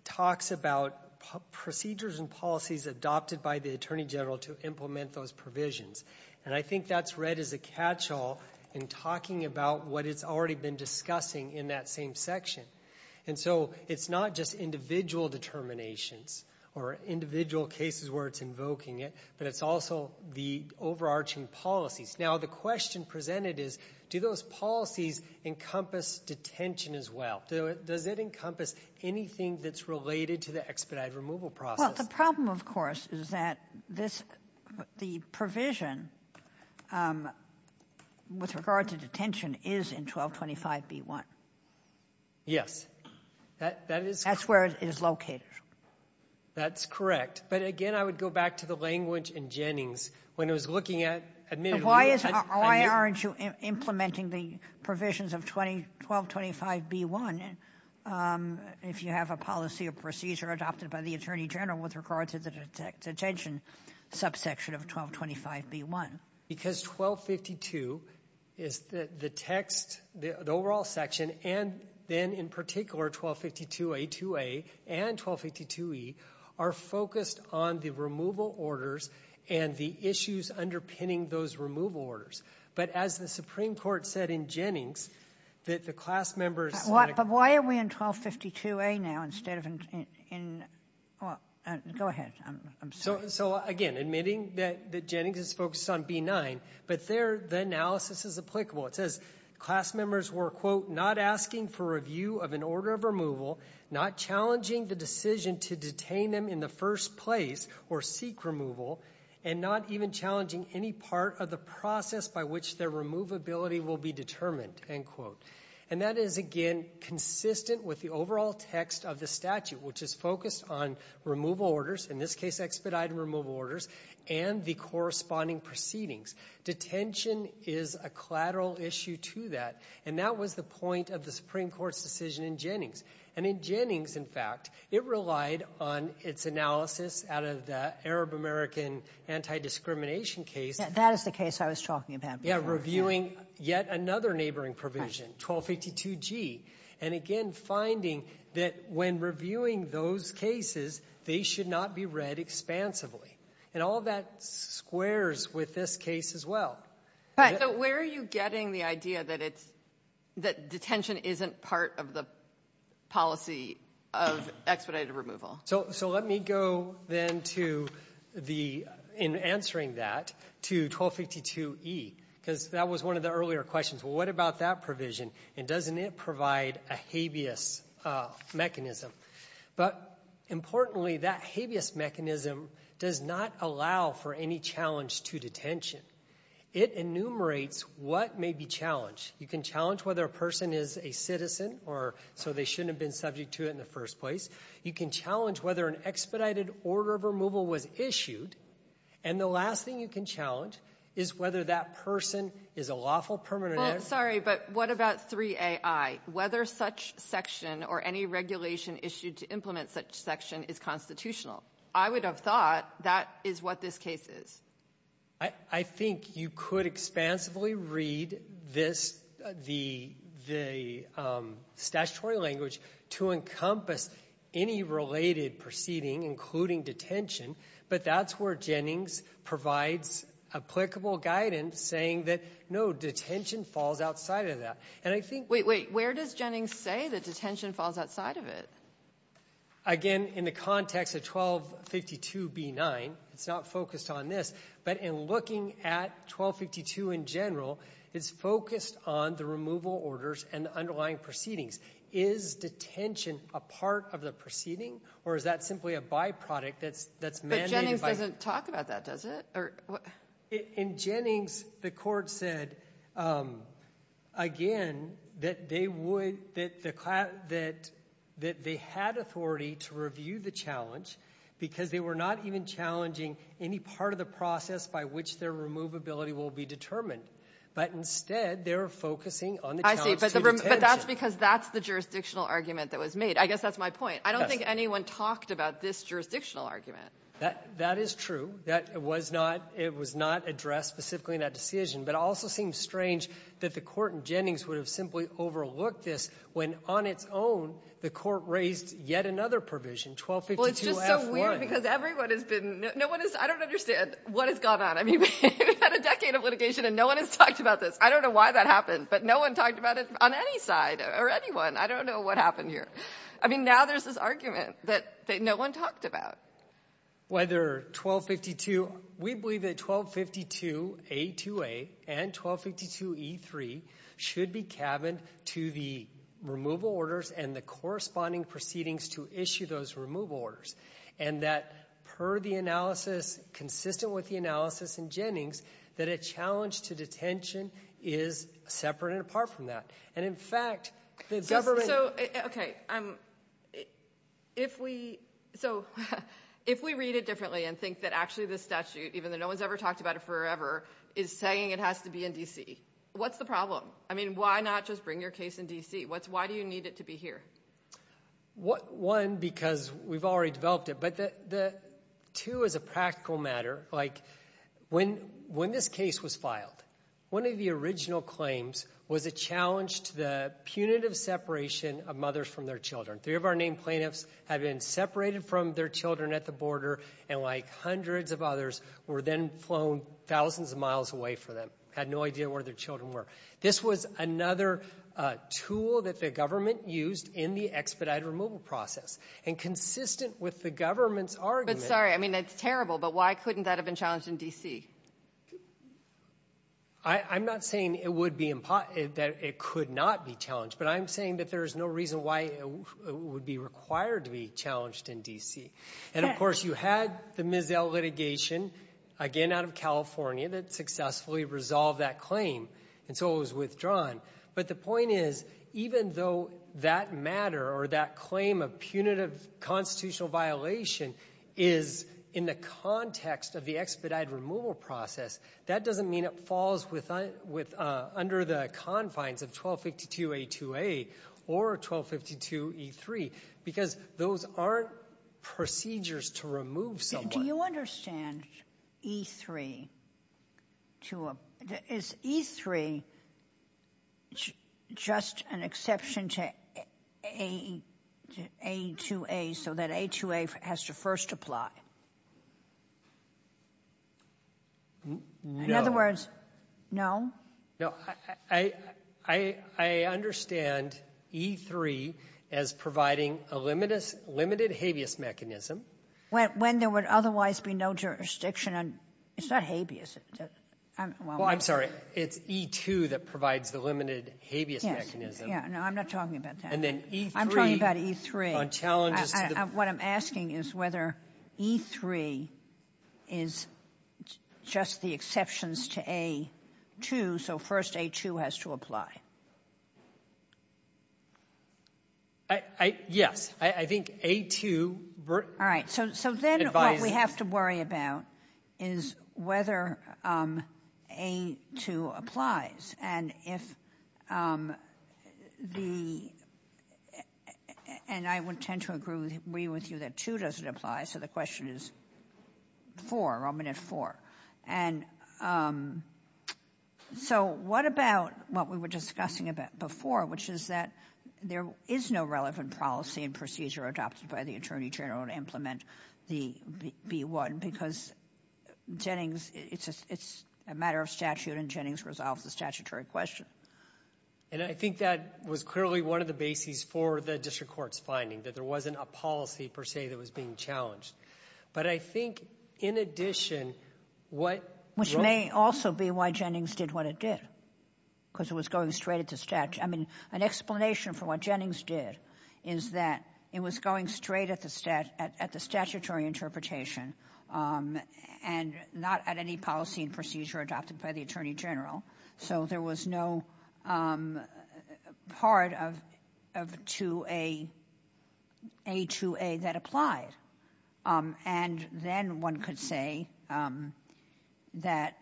talks about procedures and policies adopted by the Attorney General to implement those provisions. And I think that's read as a catch-all in talking about what it's already been discussing in that same section. And so it's not just individual determinations or individual cases where it's invoking it, but it's also the overarching policies. Now the question presented is, do those policies encompass detention as well? Does it encompass anything that's related to the expedited removal process? Well, the problem, of course, is that the provision with regard to detention is in 1225b1. Yes. That's where it is located. That's correct. But again, I would go back to the language in Jennings. When it was looking at... Why aren't you implementing the provisions of 1225b1 if you have a policy or procedure adopted by the Attorney General with regard to the detention subsection of 1225b1? Because 1252, the text, the overall section, and then in particular 1252a2a and 1252e are focused on the removal orders and the issues underpinning those removal orders. But as the Supreme Court said in Jennings, that the class members... But why are we in 1252a now instead of in... Go ahead. I'm sorry. So again, admitting that Jennings is focused on b9, but there the analysis is applicable. It says, class members were, quote, not asking for review of an order of removal, not challenging the decision to detain them in the first place or seek removal, and not even challenging any part of the process by which their removability will be determined, end quote. And that is, again, consistent with the overall text of the statute, which is focused on removal orders, in this case expedited removal orders, and the corresponding proceedings. Detention is a collateral issue to that, and that was the point of the Supreme Court's decision in Jennings. And in Jennings, in fact, it relied on its analysis out of the Arab-American anti-discrimination case. That is the case I was talking about before. Yeah, reviewing yet another neighboring provision, 1252g. And again, finding that when reviewing those cases, they should not be read expansively. And all of that squares with this case as well. Right. So where are you getting the idea that it's... that detention isn't part of the policy of expedited removal? So let me go then to the... in answering that, to 1252e, because that was one of the earlier questions. What about that provision, and doesn't it provide a habeas mechanism? But importantly, that habeas mechanism does not allow for any challenge to detention. It enumerates what may be challenged. You can challenge whether a person is a citizen, or so they shouldn't have been subject to it in the first place. You can challenge whether an expedited order of removal was issued. And the last thing you can challenge is whether that person is a lawful permanent... I'm sorry, but what about 3ai? Whether such section or any regulation issued to implement such section is constitutional. I would have thought that is what this case is. I think you could expansively read this, the statutory language, to encompass any related proceeding, including detention, but that's where Jennings provides applicable guidance saying that no, detention falls outside of that. And I think... Wait, wait, where does Jennings say that detention falls outside of it? Again, in the context of 1252b9, it's not focused on this, but in looking at 1252 in general, it's focused on the removal orders and the underlying proceedings. Is detention a part of the proceeding, or is that simply a byproduct that's mandated by... But Jennings doesn't talk about that, does it? In Jennings, the court said, again, that they had authority to review the challenge because they were not even challenging any part of the process by which their removability will be determined. But instead, they were focusing on the challenge... I see, but that's because that's the jurisdictional argument that was made. I guess that's my point. I don't think anyone talked about this jurisdictional argument. That is true. It was not addressed specifically in that decision, but it also seems strange that the court in Jennings would have simply overlooked this when, on its own, the court raised yet another provision, 1252f1. Well, it's just so weird because everyone has been... I don't know why that happened, but no one talked about it on any side or anyone. I don't know what happened here. I mean, now there's this argument that no one talked about. Whether 1252... We believe that 1252a2a and 1252e3 should be cabined to the removal orders and the corresponding proceedings to issue those removal orders and that, per the analysis consistent with the analysis in Jennings, that a challenge to detention is separate and apart from that. And, in fact, the government... So, okay. If we... So, if we read it differently and think that actually this statute, even though no one's ever talked about it forever, is saying it has to be in D.C., what's the problem? I mean, why not just bring your case in D.C.? Why do you need it to be here? One, because we've already developed it, but two, as a practical matter, like, when this case was filed, one of the original claims was it challenged the punitive separation of mothers from their children. Three of our named plaintiffs had been separated from their children at the border and, like hundreds of others, were then flown thousands of miles away from them. Had no idea where their children were. This was another tool that the government used in the expedited removal process. And consistent with the government's argument... But, sorry, I mean, that's terrible, but why couldn't that have been challenged in D.C.? I'm not saying that it could not be challenged, but I'm saying that there's no reason why it would be required to be challenged in D.C. And, of course, you had the Mizell litigation, again, out of California, that successfully resolved that claim, and so it was withdrawn. But the point is, even though that matter or that claim of punitive constitutional violation is in the context of the expedited removal process, that doesn't mean it falls under the confines of 1252A2A or 1252E3, because those are procedures to remove someone. Do you understand E3? Is E3 just an exception to A2A, so that A2A has to first apply? No. In other words, no? No. I understand E3 as providing a limited habeas mechanism. When there would otherwise be no jurisdiction, and it's not habeas. Well, I'm sorry, it's E2 that provides the limited habeas mechanism. Yeah, no, I'm not talking about that. I'm talking about E3. What I'm asking is whether E3 is just the exceptions to A2, so first A2 has to apply. Yes. I think A2... All right, so then what we have to worry about is whether A2 applies, and if the... And I would tend to agree with you that two doesn't apply, so the question is four, or I'm going to have four. And so what about what we were discussing before, which is that there is no relevant policy and procedure adopted by the Attorney General to implement the B1, because it's a matter of statute, and Jennings resolved the statutory question. And I think that was clearly one of the bases for the district court's finding, that there wasn't a policy, per se, that was being challenged. But I think, in addition, what... Which may also be why Jennings did what it did, because it was going straight at the statute. I mean, an explanation for what Jennings did is that it was going straight at the statutory interpretation, and not at any policy and procedure adopted by the Attorney General, so there was no part of A2A that applies. And then one could say that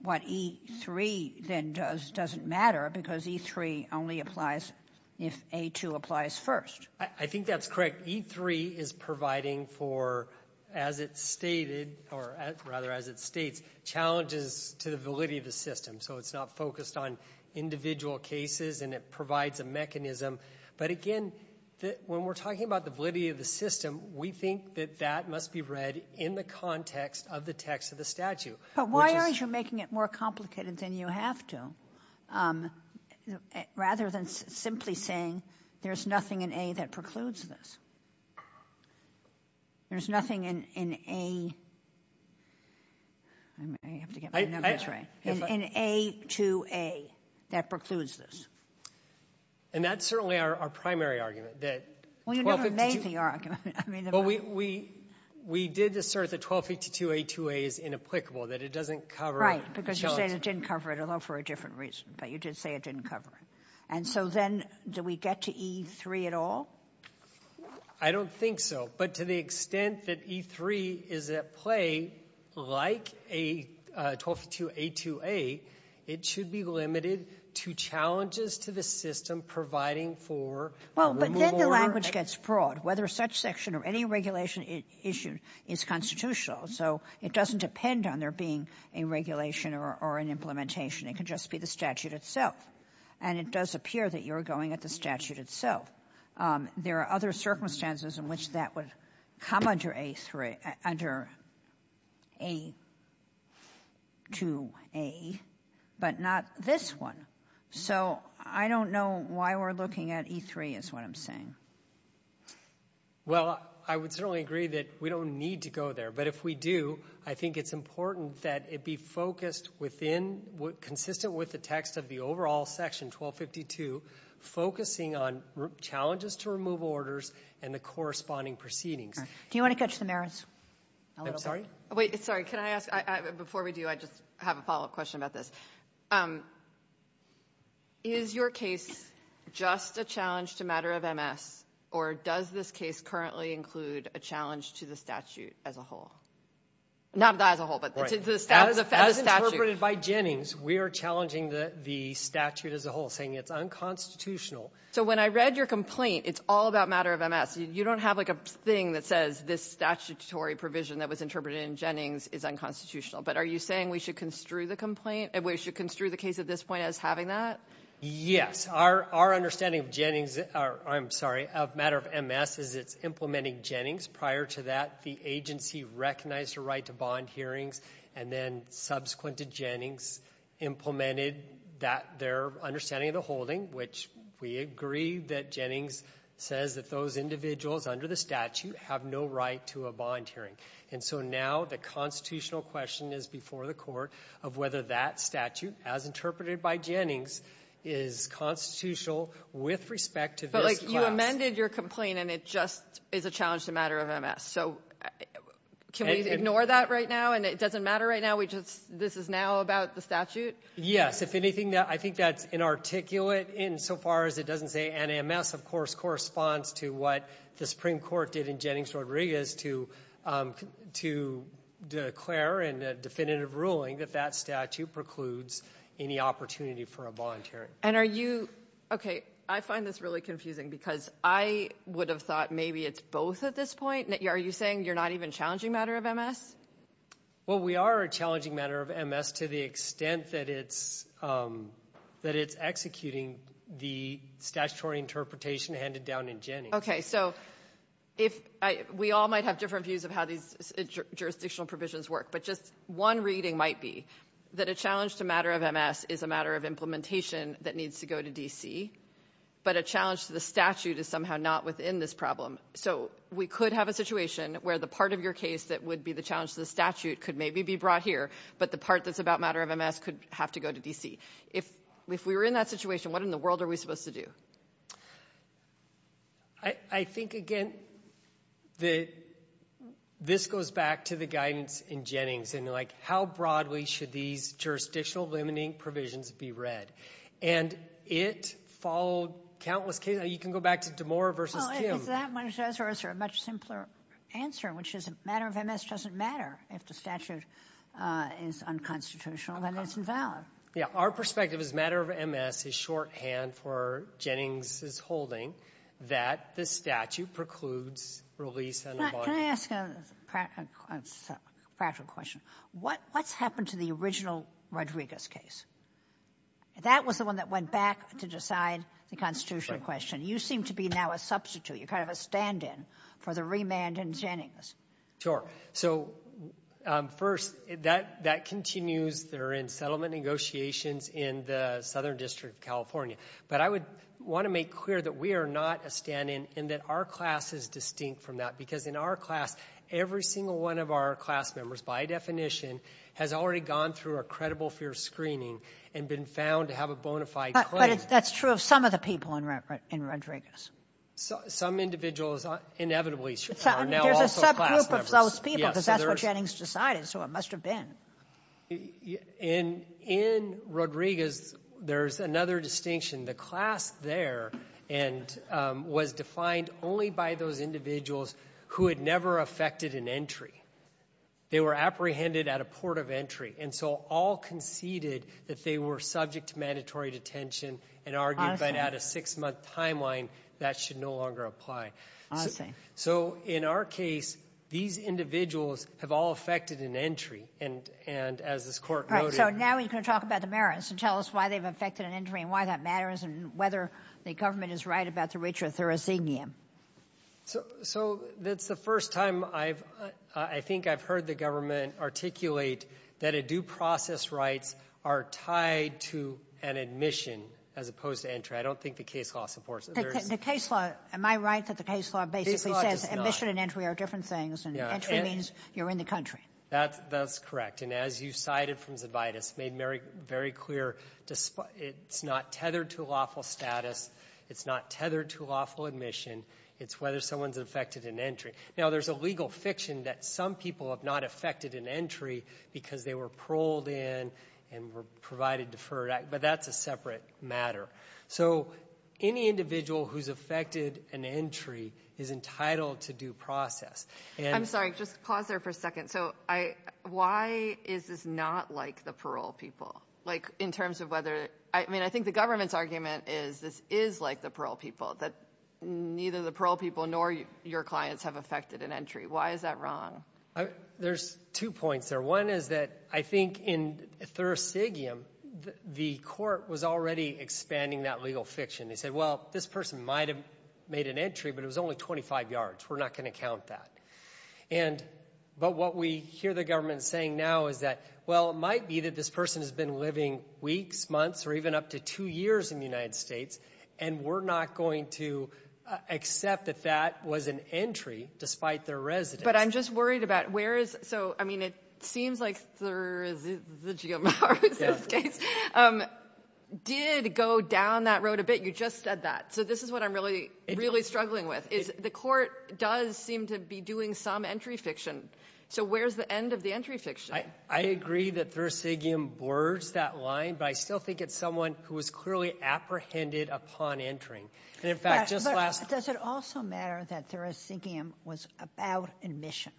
what E3 then does doesn't matter, because E3 only applies if A2 applies first. I think that's correct. E3 is providing for, as it stated, or rather as it states, challenges to the validity of the system. It's not focused on individual cases, and it provides a mechanism. But again, when we're talking about the validity of the system, we think that that must be read in the context of the text of the statute. But why aren't you making it more complicated than you have to? Rather than simply saying, there's nothing in A that precludes this. There's nothing in A... I have to get my numbers right. ...in A2A that precludes this. And that's certainly our primary argument. Well, you never made the argument. Well, we did assert that 1252A2A is inapplicable, that it doesn't cover... Right, because you said it didn't cover it, although for a different reason. But you did say it didn't cover it. And so then, do we get to E3 at all? I don't think so. But to the extent that E3 is at play, like 1252A2A, it should be limited to challenges to the system providing for... Well, but then the language gets broad. Whether such section or any regulation issued is constitutional. So it doesn't depend on there being a regulation or an implementation. It can just be the statute itself. And it does appear that you're going at the statute itself. There are other circumstances in which that would come under A3, under A2A, but not this one. So I don't know why we're looking at E3, is what I'm saying. Well, I would certainly agree that we don't need to go there. But if we do, I think it's important that it be focused within, consistent with the text of the overall section, 1252, focusing on challenges to removal orders and the corresponding proceedings. Do you want to touch the merits? I'm sorry? Wait, sorry, can I ask, before we do, I just have a follow-up question about this. Is your case just a challenge to matter of MS, or does this case currently include a challenge to the statute as a whole? Not as a whole, but the statute. As interpreted by Jennings, we are challenging the statute as a whole, saying it's unconstitutional. So when I read your complaint, it's all about matter of MS. It says this statutory provision that was interpreted in Jennings is unconstitutional. But are you saying we should construe the complaint, we should construe the case at this point as having that? Yes. Our understanding of Jennings, or I'm sorry, of matter of MS, is it's implementing Jennings. Prior to that, the agency recognized a right to bond hearing, and then subsequent to Jennings, implemented their understanding of the holding, which we agree that Jennings says that those individuals under the statute have no right to a bond hearing. And so now the constitutional question is before the court of whether that statute, as interpreted by Jennings, is constitutional with respect to their class. But you amended your complaint, and it just is a challenge to matter of MS. So can we ignore that right now, and it doesn't matter right now? This is now about the statute? Yes. If anything, I think that's inarticulate insofar as it doesn't say, and MS, of course, corresponds to what the Supreme Court did in Jennings-Rodriguez to declare in the definitive ruling that that statute precludes any opportunity for a bond hearing. And are you... Okay, I find this really confusing because I would have thought maybe it's both at this point. Are you saying you're not even challenging matter of MS? Well, we are a challenging matter of MS to the extent that it's executing the statutory interpretation handed down in Jennings. So if I... We all might have different views of how these jurisdictional provisions work, but just one reading might be that a challenge to matter of MS is a matter of implementation that needs to go to D.C., but a challenge to the statute is somehow not within this problem. So we could have a situation where the part of your case that would be the challenge to the statute could maybe be brought here, but the part that's about matter of MS could have to go to D.C. And, again, this goes back to the guidance in Jennings. How broadly should these jurisdictional limiting provisions be read? And it followed countless cases. You can go back to DeMora versus Kim. Well, I think that one is a much simpler answer, which is matter of MS doesn't matter if the statute is unconstitutional and it's invalid. Yeah, our perspective is matter of MS is shorthand for Jennings' holding that the statute precludes release. Can I ask a practical question? What happened to the original Rodriguez case? That was the one that went back to decide the constitutional question. You seem to be now a substitute. You're kind of a stand-in for the remand in Jennings. Sure. So, first, that continues. They're in settlement negotiations in the Southern District of California. But I would want to make clear that we are not a stand-in and that our class is distinct from that because in our class, every single one of our class members, by definition, has already gone through a credible fear screening and been found to have a bona fide claim. But that's true of some of the people in Rodriguez. Some individuals, inevitably, are now also class members. There's a subgroup of those people because that's what Jennings decided, so it must have been. In Rodriguez, there's another distinction. The class there was defined only by those individuals who had never affected an entry. They were apprehended at a port of entry, and so all conceded that they were subject to mandatory detention and argued that at a six-month timeline, that should no longer apply. So, in our case, these individuals have all affected an entry, and as this court noted... All right, so now we can talk about the merits and tell us why they've affected an entry and whether the government is right about the ritual thorachenium. So, it's the first time I've... I think I've heard the government articulate that a due process right are tied to an admission as opposed to entry. I don't think the case law supports it. The case law... Am I right that the case law basically says admission and entry are different things and entry means you're in the country? That's correct, and as you cited from Zibidus, it's not tethered to lawful status, it's not tethered to lawful admission, it's whether someone's affected an entry. Now, there's a legal fiction that some people have not affected an entry because they were paroled in and were provided deferred... But that's a separate matter. So, any individual who's affected an entry is entitled to due process, and... I'm sorry, just pause there for a second. So, why is this not like the parole people? Like, in terms of whether... I mean, I think the government's argument is this is like the parole people, that neither the parole people nor your clients have affected an entry. Why is that wrong? There's two points there. One is that I think in Thursigium, the court was already expanding that legal fiction. They said, well, this person might have made an entry, but it was only 25 yards. We're not going to count that. But what we hear the government saying now is that, well, it might be that this person has been living weeks, months, even up to two years in the United States, and we're not going to accept that that was an entry, despite their residence. But I'm just worried about where is... So, I mean, it seems like Thursigium, in this case, did go down that road a bit. You just said that. So, this is what I'm really, really struggling with, is the court does seem to be doing some entry fiction. So, where's the end of the entry fiction? I agree that Thursigium boards that line, but I still think it's someone who's clearly apprehended upon entering. And, in fact, just last... But does it also matter that Thursigium was about admission?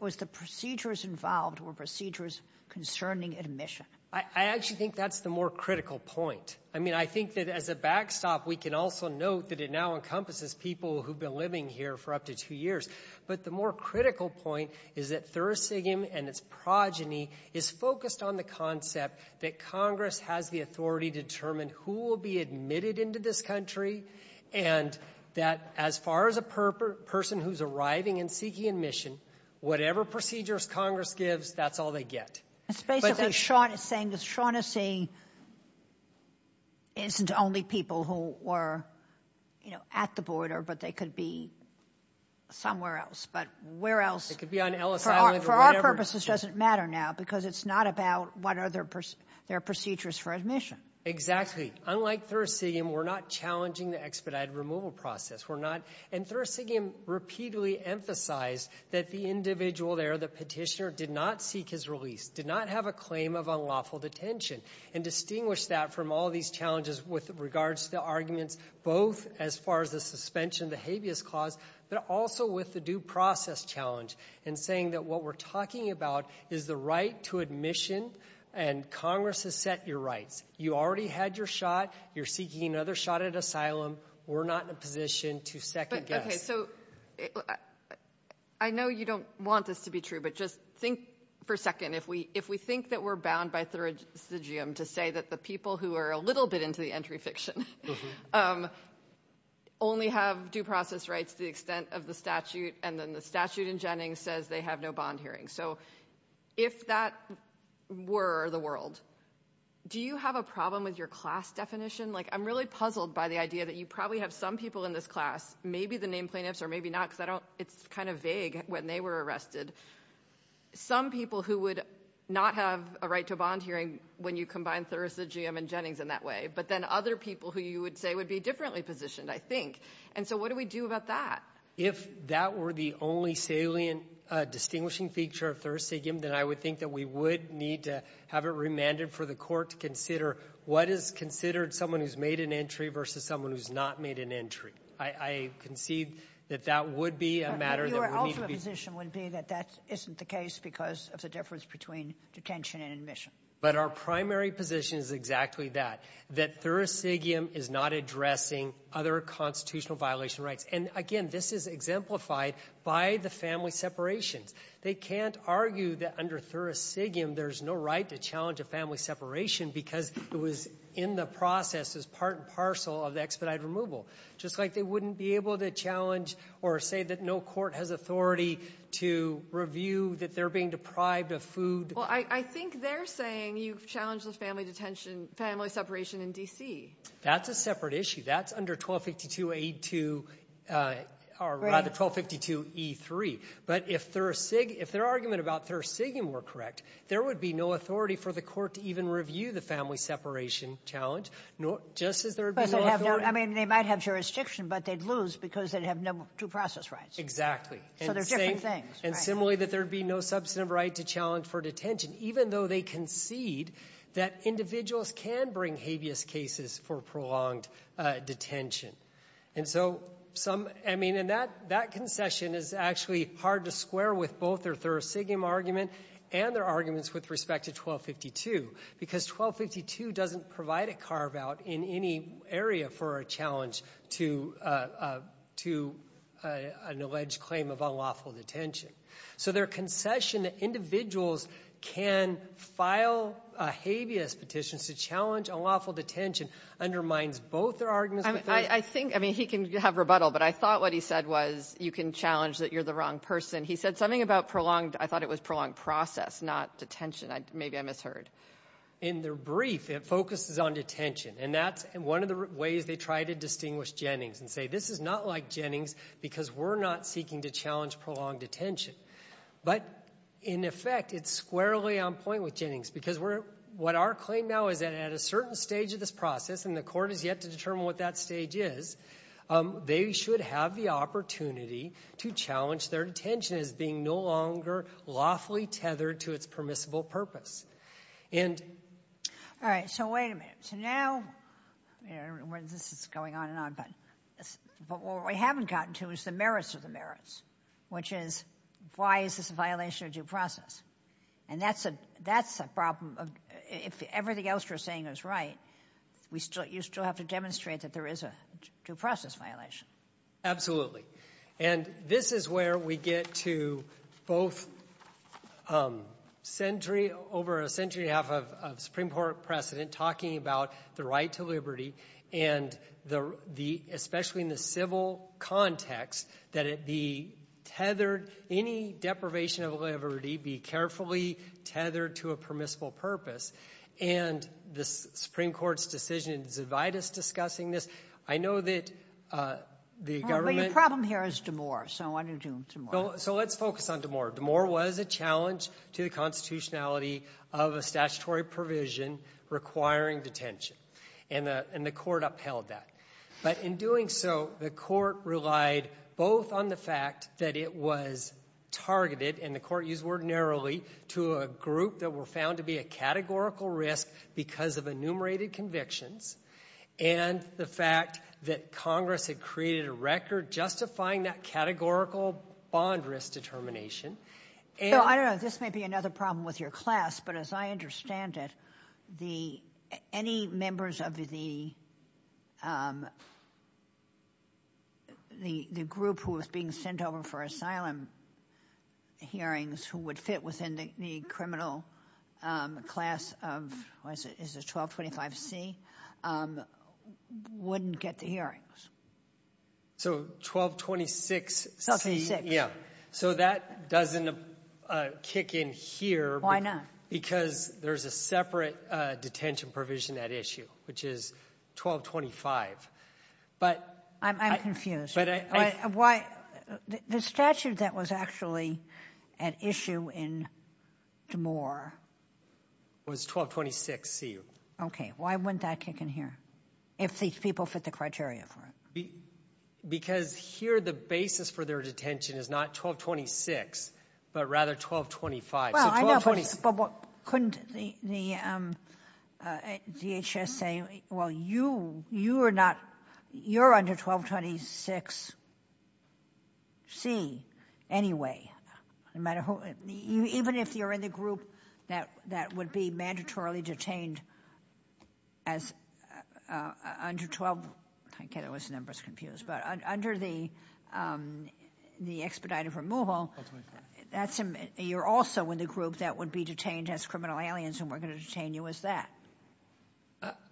Was the procedures involved, were procedures concerning admission? I actually think that's the more critical point. I mean, I think that, as a backstop, we can also note that it now encompasses people who've been living here for up to two years. But the more critical point is that Thursigium and its progeny is focused on the concept that Congress has the authority to determine who will be admitted into this country, and that, as far as a person who's arriving and seeking admission, whatever procedures Congress gives, that's all they get. It's basically, as Sean is saying, isn't only people who were at the border, but they could be somewhere else. But where else? It could be on Ellis Island or whatever. For our purposes, it doesn't matter now, there are procedures for admission. Exactly. Unlike Thursigium, we're not challenging the expedited removal process. And Thursigium repeatedly emphasized that the individual there, the petitioner, did not seek his release, did not have a claim of unlawful detention, and distinguished that from all these challenges with regards to the arguments, both as far as the suspension of the habeas clause, but also with the due process challenge, in saying that what we're talking about is the right to admission, and Congress has set your rights. You already had your shot, you're seeking another shot at asylum, we're not in a position to second-guess. Okay, so I know you don't want this to be true, but just think for a second. If we think that we're bound by Thursigium to say that the people who are a little bit into the entry fictions only have due process rights to the extent of the statute, and then the statute in Jennings says they have no bond hearing. If that were the world, do you have a problem with your class definition? I'm really puzzled by the idea that you probably have some people in this class, maybe the named plaintiffs or maybe not, because it's kind of vague when they were arrested, some people who would not have a right to a bond hearing when you combine Thursigium and Jennings in that way, but then other people who you would say would be differently positioned, I think. And so what do we do about that? If that were the only salient distinguishing feature of Thursigium, then I would think that we would need to have it remanded for the court to consider what is considered someone who's made an entry versus someone who's not made an entry. I concede that that would be a matter that we need to be... Your ultimate position would be that that isn't the case because of the difference between detention and admission. But our primary position is exactly that, that Thursigium is not addressing other constitutional violation rights. And again, this is exemplified by the family separation. They can't argue that under Thursigium there's no right to challenge a family separation because it was in the process as part and parcel of the expedited removal, just like they wouldn't be able to challenge or say that no court has authority to review that they're being deprived of food. Well, I think they're saying you've challenged the family separation in D.C. That's a separate issue. That's under 1252A2 or rather 1252E3. But if their argument about Thursigium were correct, there would be no authority for the court to even review the family separation challenge, just as there would be no authority... I mean, they might have jurisdiction, but they'd lose because they'd have no due process rights. Exactly. So they're different things. And similarly, that there'd be no substantive right to challenge for detention, even though they concede that individuals can bring habeas cases for prolonged detention. And so some... I mean, and that concession is actually hard to square with both their Thursigium argument and their arguments with respect to 1252 because 1252 doesn't provide a carve-out in any area for a challenge to an alleged claim of unlawful detention. So their concession that individuals can file a habeas petition to challenge unlawful detention undermines both their arguments... I think... I mean, he can have rebuttal, but I thought what he said was you can challenge that you're the wrong person. He said something about prolonged... I thought it was prolonged process, not detention. Maybe I misheard. In their brief, it focuses on detention, and that's one of the ways they try to distinguish Jennings and say this is not like Jennings because we're not seeking to challenge prolonged detention. But in effect, it's squarely on point with Jennings because what our claim now is that at a certain stage of this process, they should have the opportunity to challenge their detention as being no longer lawfully tethered to its permissible purpose. And... All right, so wait a minute. So now, this is going on and on, but what we haven't gotten to is the merits of the merits, which is why is this a violation of due process? And that's a problem. If everything else you're saying is right, you still have to demonstrate that there is a due process violation. And this is where we get to both century... over a century and a half of Supreme Court precedent talking about the right to liberty and the... especially in the civil context that it be tethered... any deprivation of liberty be carefully tethered to a permissible purpose. And the Supreme Court's decision to divide us discussing this, I know that the government... Well, the problem here is D'Amour. So what are you doing with D'Amour? So let's focus on D'Amour. D'Amour was a challenge to the constitutionality of a statutory provision requiring detention. And the court upheld that. But in doing so, the court relied both on the fact that it was targeted, and the court used the word narrowly, to a group that were found to be a categorical risk and the fact that Congress had created a record justifying that categorical bond risk determination. So I don't know, this might be another problem with your class, but as I understand it, any members of the... the group who was being sent over for asylum hearings who would fit within the criminal class of... what is it? Is it 1225C? Wouldn't get the hearings. So 1226... Yeah. So that doesn't kick in here. Why not? Because there's a separate detention provision at issue, which is 1225. But... I'm confused. Why... The statute that was actually an issue in D'Amour... Was 1226C. Okay. Why wouldn't that kick in here? If these people fit the criteria. Because here the basis for their detention is not 1226, but rather 1225. Well, I know, but couldn't the... DHS say, well you, you are not... You're under 1226C anyway. No matter who... Even if you're in the group that would be mandatorily detained as... Under 12... Okay, those numbers confuse. But under the... The expedited removal, that's... You're also in the group that would be detained as criminal aliens and we're going to detain you as that.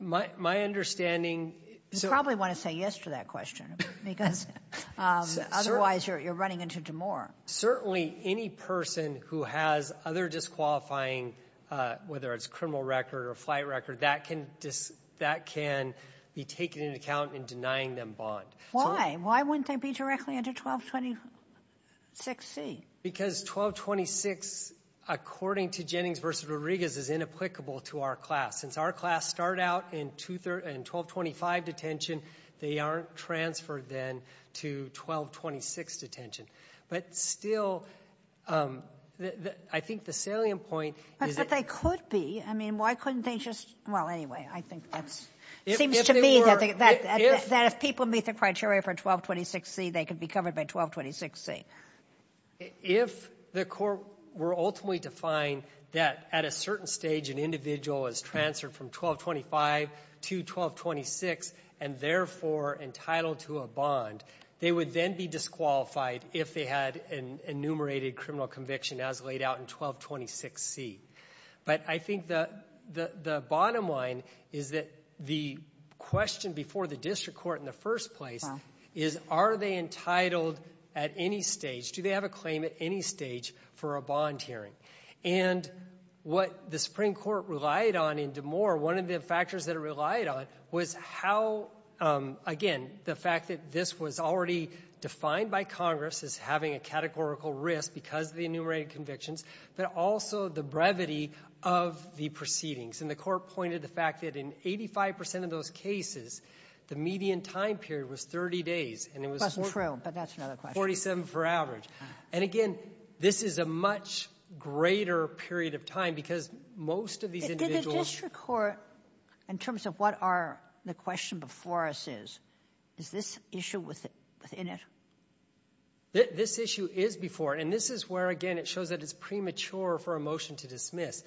My understanding... You probably want to say yes to that question. Because... Otherwise, you're running into D'Amour. Certainly, any person who has other disqualifying, whether it's criminal record or flight record, that can... That can be taken into account in denying them bond. Why wouldn't they be directly under 1226C? Because 1226, according to Jennings versus Rodriguez, is inapplicable to our class. Since our class start out in 1225 detention, they aren't transferred then to 1226 detention. But still, I think the salient point... But they could be. I mean, why couldn't they just... Well, anyway, I think that's... It seems to me that if people meet the criteria for 1226C, they could be covered by 1226C. If the court were ultimately defined that at a certain stage an individual is transferred from 1225 to 1226 and therefore entitled to a bond, they would then be disqualified if they had an enumerated criminal conviction as laid out in 1226C. But I think the bottom line is that the question before the district court in the first place is, are they entitled at any stage? Do they have a claim at any stage for a bond hearing? And what the Supreme Court relied on in DeMoor, one of the factors that it relied on was how, again, the fact that this was already defined by Congress as having a categorical risk because of the enumerated convictions, but also the brevity of the proceedings and the court pointed to the fact that in 85% of those cases the median time period was 30 days and it was 47 for average. And again, this is a much greater period of time because most of these individuals Did the district court, in terms of what the question before us is, is this issue within it? This issue is before and this is where, and it shows that it's premature for a motion to dismiss.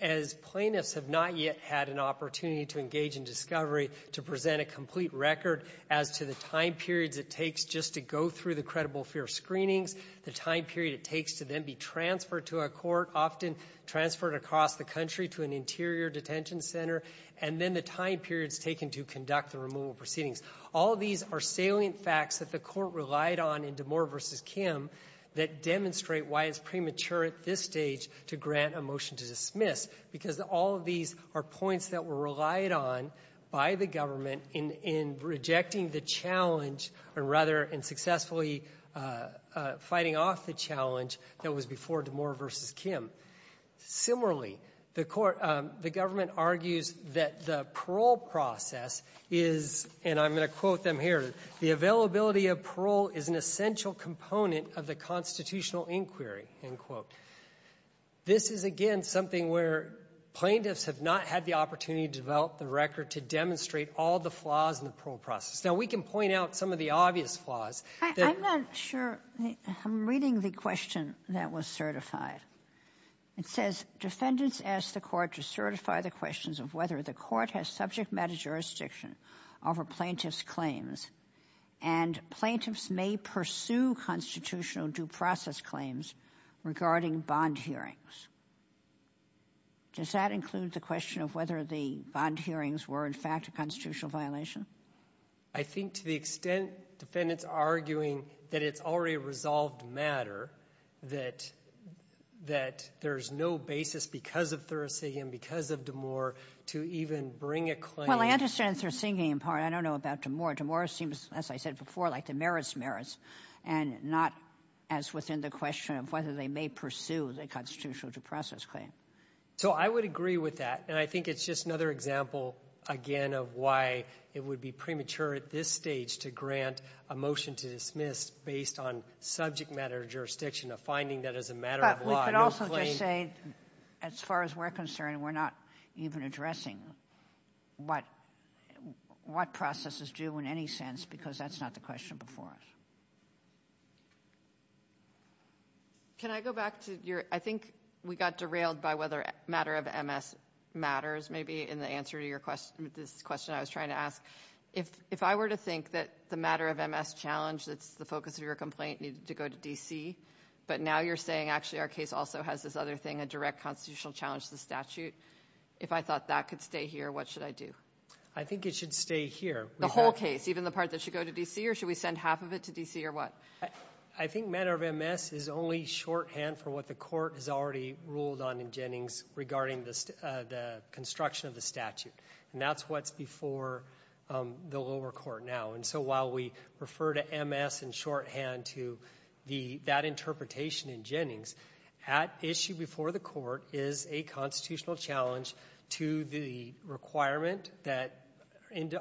As plaintiffs have not yet had an opportunity to engage in discovery to present a complete record as to the time period it takes just to go through the credible fair screenings, the time period it takes to then be transferred to a court, often transferred across the country to an interior detention center, and then the time period taken to conduct the removal proceedings. All of these are salient facts that the court relied on in Demore v. Kim that demonstrate why it's premature at this stage to grant a motion to dismiss because all of these are points that were relied on by the government in rejecting the challenge or rather in successfully fighting off the challenge that was before Demore v. Kim. Similarly, the court, the government argues that the parole process is, and I'm going to quote them here, the availability of parole is an essential component of the constitutional inquiry, end quote. This is, again, something where plaintiffs have not had the opportunity to develop the record to demonstrate all the flaws in the parole process. Now, we can point out some of the obvious flaws. I'm not sure. I'm reading the question that was certified. It says, defendants asked the court to certify the questions of whether the court has subject matter jurisdiction over plaintiff's claims and plaintiffs may pursue constitutional due process claims regarding bond hearings. Does that include the question of whether the bond hearings were, a constitutional violation? I think to the extent defendants are arguing that it's already resolved matter, that there's no basis because of Thursey and because of to even bring a claim. Well, I understand what you're saying about to more. To more seems, as I said before, like the merits merits and not as within the question of whether they may pursue the constitutional due process claim. So I would agree with that. And I think it's just another example again of why it would be premature at this stage to grant a motion to dismiss based on subject matter jurisdiction of finding that as a matter of law. But we could also just say, as far as we're concerned, we're not even addressing what processes do in any sense because that's not the question before us. Can I go back to your, I think we got derailed by whether matter of MS matters, maybe in the answer to your question, this question I was trying to ask. If I were to think that the matter of MS challenge that's the focus of your complaint needed to go to DC, but now you're saying actually our case also has this other thing, a direct constitutional challenge to the statute, if I thought that could stay here, what should I do? I think it should stay here. The whole case, even the part that should go to DC or should we send half of it to DC or what? I think matter of MS is only shorthand for what the court has already ruled on in Jennings regarding the construction of the statute. And that's what's before the lower court now. And so while we refer to MS in shorthand to that interpretation in Jennings, at issue before the court is a constitutional challenge to the requirement that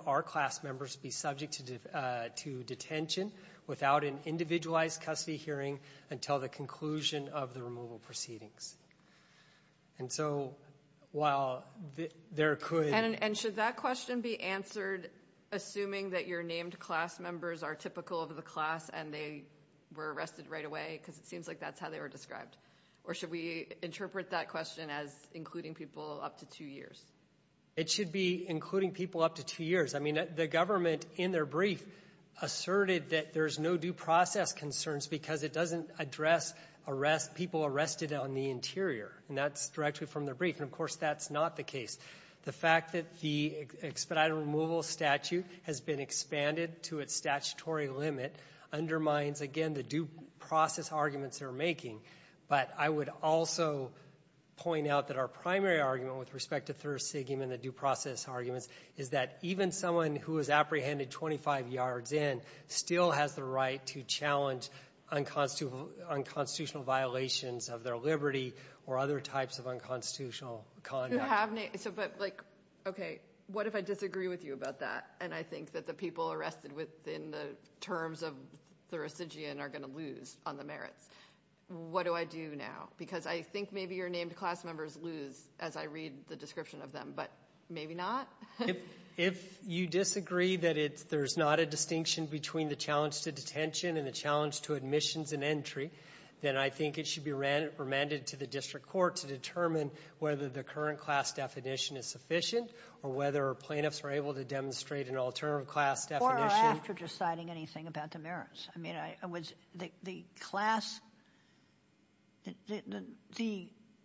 our class members be subject to detention without an individualized custody hearing until the conclusion of the removal proceedings. And so while there could And should that question be answered assuming that your named class members are typical of the class and they were arrested right away because it seems like that's how they were described or should we interpret that question as including people up to two years? It should be including people up to two years. The government in their brief asserted that there's no due process concerns because it doesn't address people arrested on the interior, not directly from their brief. And of course that's not the The fact that the expedited removal statute has been expanded to its statutory limit undermines the right to challenge unconstitutional violations of their liberty or other types of unconstitutional conduct. Okay. What if I disagree with you about that? And I think that the people arrested within the terms of jurisdiction are going to lose on the merit. What do I do now? Because I think maybe your named class members lose as I read the description of them. But maybe not? If you disagree that there's not a distinction between the challenge to detention and the challenge to admissions and entry, then I think it should be more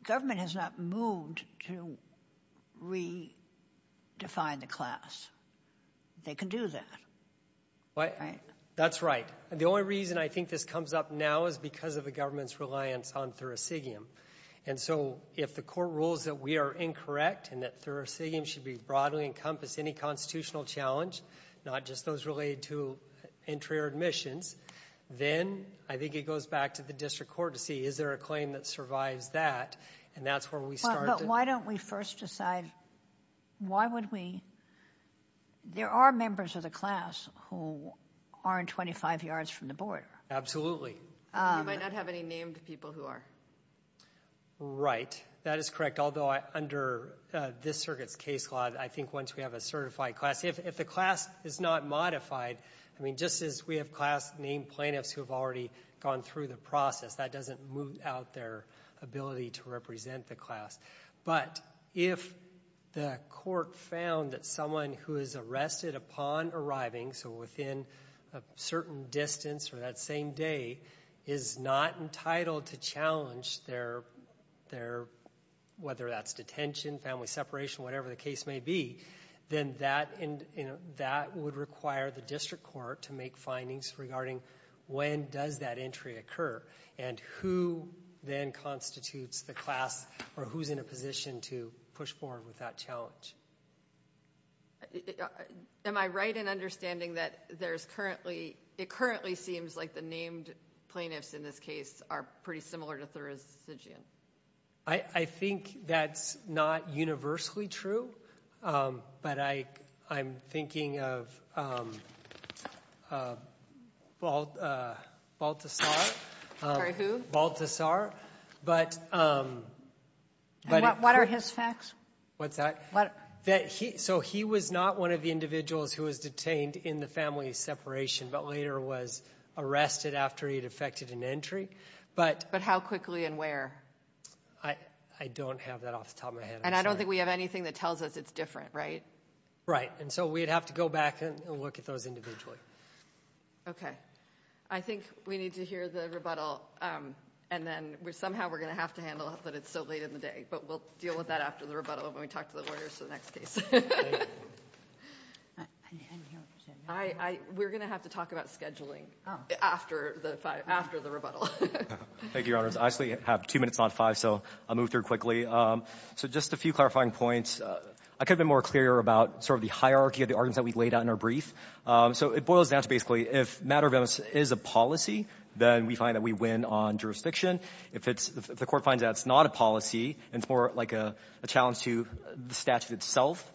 government has not moved to redefine the They can do that. That's right. The only reason I think this comes up now is because of the government's reliance on Thursidium. If the court rules that we are incorrect and that should be broad and encompass any constitutional challenge, not just those related to entry or admissions, then I think it goes back to the district court to see if there's a claim that that. There are members of the class who are in 25 yards from the board. Absolutely. You might not have any named people who are. Right. That is correct. Although under this circuit case law, I think once we have a certified class, if the class is not modified, just as we have class named plaintiffs who have already gone through the process, that doesn't require the district court to make findings regarding when does that entry occur and who constitutes the class or who is in a position to push forward with that challenge. Am I right in understanding that it currently seems like the named plaintiffs in this case are pretty similar to residents? I think that's not universally true, but I'm thinking of Baltasar. Sorry, who? Baltasar. What are his facts? So he was not one of the who was detained in the family separation, but later was arrested after he defected an entry. But how quickly and where? I don't have that off the top of my And I don't think we have anything that tells us it's different, right? Right. And so we'd have to go back and look at those individually. Okay. I think we need to hear the rebuttal and then somehow we're going to have to talk to the lawyers for the next case. We're going to have to talk about scheduling after the rebuttal. I actually have two minutes, so I'll move through quickly. So just a few clarifying points. I could have been more clear about the hierarchy of arguments we laid out. If matter of interest is a policy, we win on jurisdiction. If it's not a policy, it's more a challenge to the itself.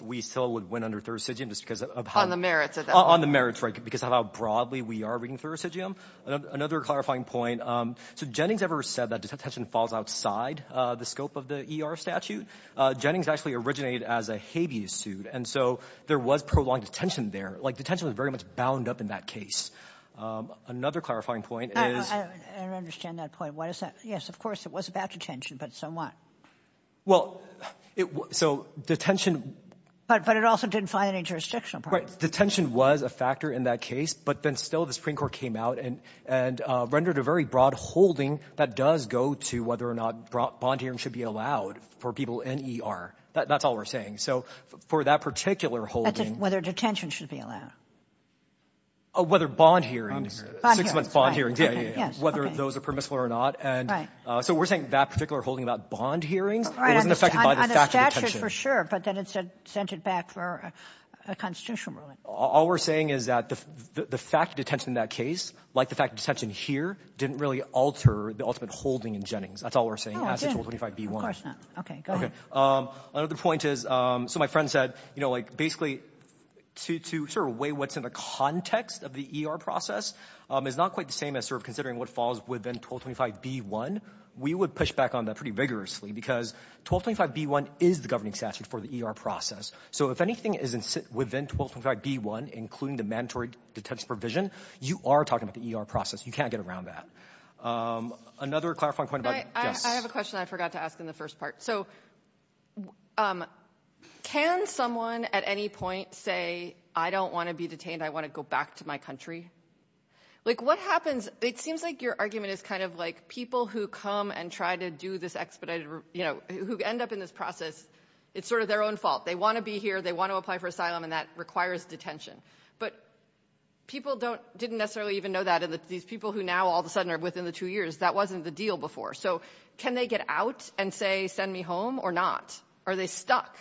Jennings said that detention falls outside the scope of the statute. Jennings originated as a Hades suit. Detention was bound up in that case. Another clarifying point. Of course it was about detention, but so what? Detention was a factor in that case, but then still the Supreme Court came out and rendered a broad hearing does go to whether or not bond hearings should be allowed. That's all we're saying. Whether detention should be allowed? Whether bond hearings. Whether those are permissible or not. We're saying that particular holding about bond hearings. All we're saying is that the fact of in that case didn't alter the ultimate holding in Jennings. That's all we're saying. Another point is, my friend said, to weigh what's in the context of the ER process is not the same as what falls within 1225B1. We would push back on that vigorously. 1225B1 is the governing statute for the ER process. If anything is within 1225B1, you are talking about the ER process. You can't get around that. I have a question I forgot to ask. Can someone at any point say I don't want to be detained, I want to go back to my country? It seems like your argument is people who come and try to do this expedited process, it's their own fault. They want to apply for asylum and that requires detention. People who now are within the two years, that wasn't the deal before. Can they get out and say send me home or not? Are they stuck?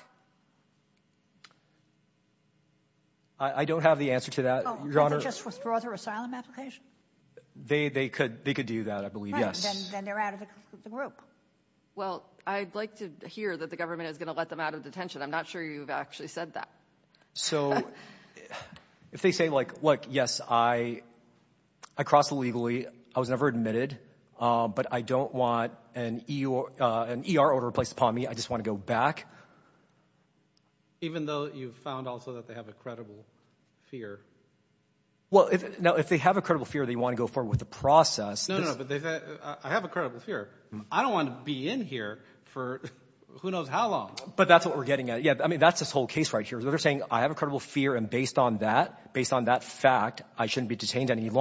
I don't have the answer to that. They could do that. I would like to hear that the government is going to let them out of detention. I'm not sure you said that. If they say yes, I crossed illegally, I was never admitted, but I don't want an ER order placed upon me. I just want to Even though you found they have a credible fear. If they have a credible fear, they want to go forward with the process. I don't want to be in here for who knows how long. That's the whole case. Based on that fact, I shouldn't be asking For a year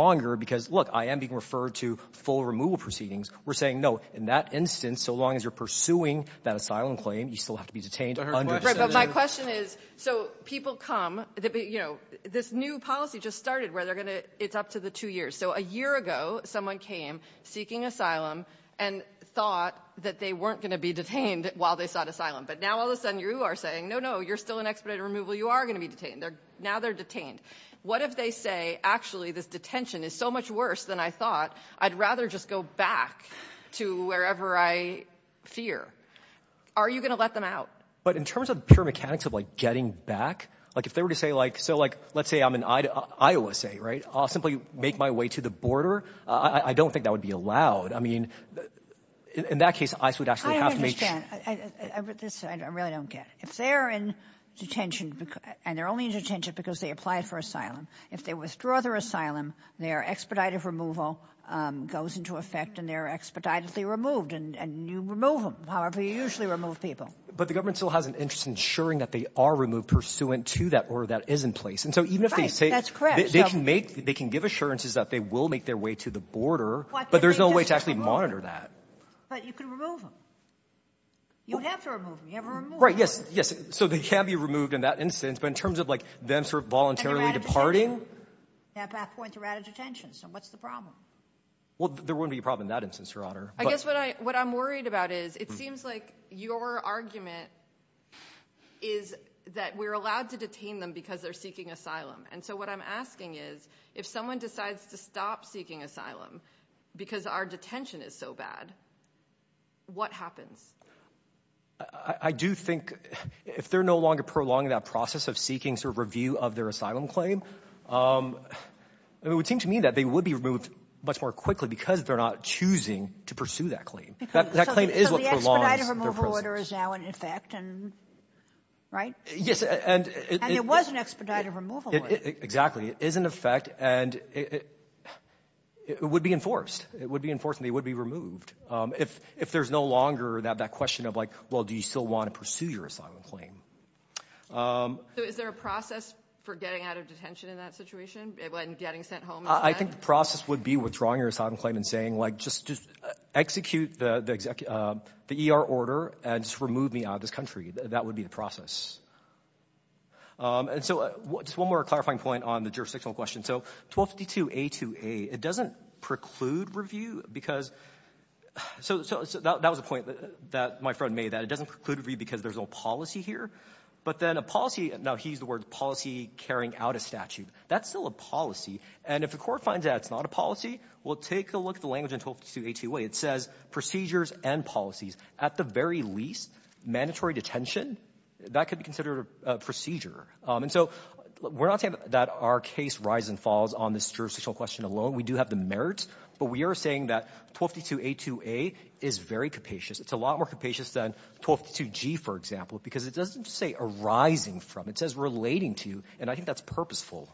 ago, someone came seeking asylum and thought they weren't going to be detained. Now you're saying no, no, you're still in expedited removal. What if they say actually that detention is so much worse than I thought I'd rather just go back to wherever I fear? Are you going to let them out? In terms of pure mechanics of getting back, let's say I'm in Iowa, I'll make my way to the border. I don't think that would be allowed. I understand. If they're in detention because they applied for asylum, if they withdraw their their expedited removal goes into effect and they're expeditedly removed and you remove them. But the government still has an interest in ensuring that they are removed pursuant to that order that is in place. They can give assurances they will make their way to the border but there's no way to monitor that. You can remove them. You have to remove them. They can be removed in that instance but in terms of voluntarily departing. There won't be a problem in that instance. What I'm worried about is it seems like your argument is that we're allowed to detain them because they're asylum. What I'm asking is if someone decides to stop seeking asylum because our detention is so bad, what happens? I do think if they're no longer seeking review of their asylum claim, it would seem to me that they would be removed much more quickly because they're not choosing to pursue that claim. So the expedited removal order is now in effect, right? And there was an expedited removal order. Exactly. It is in effect and it would be enforced and would be removed if there's no longer that question of, well, do you still want to pursue your asylum claim? Is there a process for getting out of detention in that situation? I think the process would be with saying just execute the ER order and remove me out of this country. That would be the process. Just one more My friend made that. There's no policy here. He used the word policy carrying out a statute. That's still a policy. It says procedures and policies. At the very least, mandatory detention, that could be considered a procedure. We're not saying that our case rises and falls on the a lot more compassionate than 1252G. It doesn't say arising from. It says relating to. I think that's purposeful.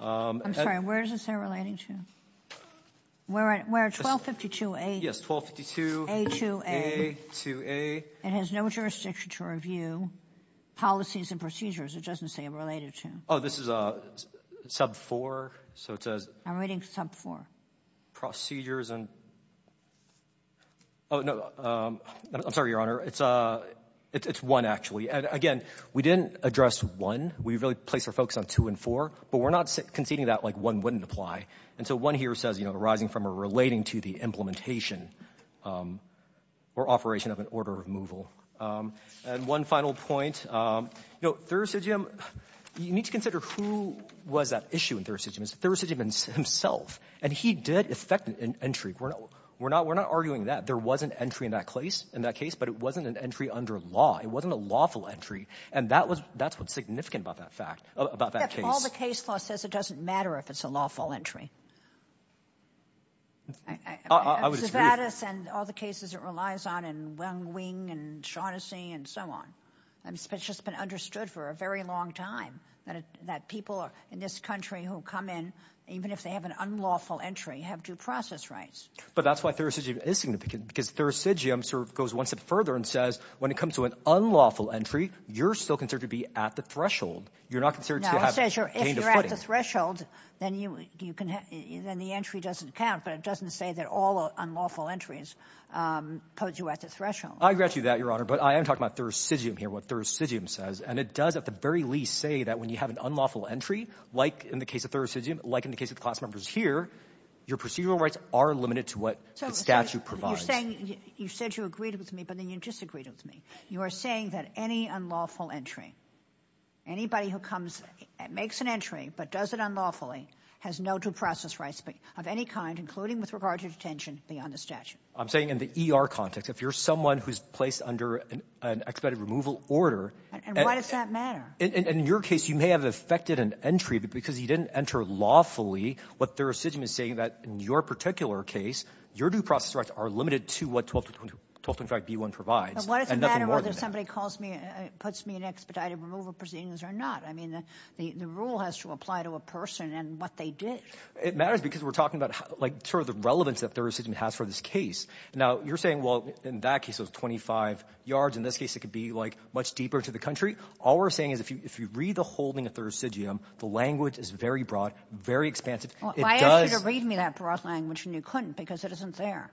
1252A has no jurisdiction to review policies and It doesn't say related to. This is sub 4. I'm reading sub 4. Procedures and I'm sorry, your It's one, actually. We didn't address one. We placed focus on two and four. One here says arising from or relating to the implementation or operation of an order of removal. One final point. You need to consider who was that issue. He did affect entry. We're not arguing that. There wasn't entry in that case. It wasn't an entry under law. It wasn't a lawful entry. It doesn't matter if it's a lawful entry. All the cases it relies on and so on. It's been understood for a people in this country who come in even if they have an unlawful entry have due process rights. When it comes to an unlawful entry, you're still considered to be at the threshold. If you're at the the entry doesn't count. It doesn't say all unlawful entries have due process rights. saying any unlawful entry, anybody who comes and makes an entry but does it unlawfully has no due process rights of any kind including with regard to detention beyond the statute. I'm saying in the ER context if you're placed under an expedited removal order. In your case you may have affected an entry because you didn't enter lawfully. In your particular case your due process rights are limited to what 12.5B1 provides. It matters because we're talking about the relevance that there is for this case. You're saying in that case it could be much deeper to the country. If you read the whole thing the language is very broad. I asked you to read me that language and you couldn't because it isn't there.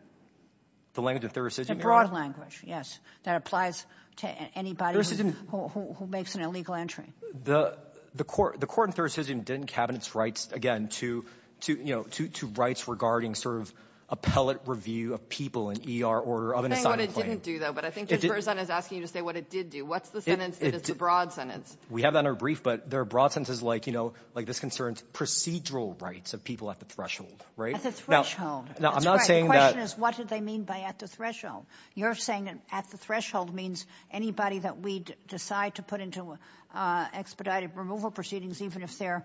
It applies to anybody who makes an illegal entry. The court didn't cabinet rights to rights regarding appellate cases. It's a broad sentence. There are broad sentences like this concerns procedural rights of people at the threshold. What do they mean by that? You're saying at the threshold means anybody we decide to put into expedited removal proceedings even if they're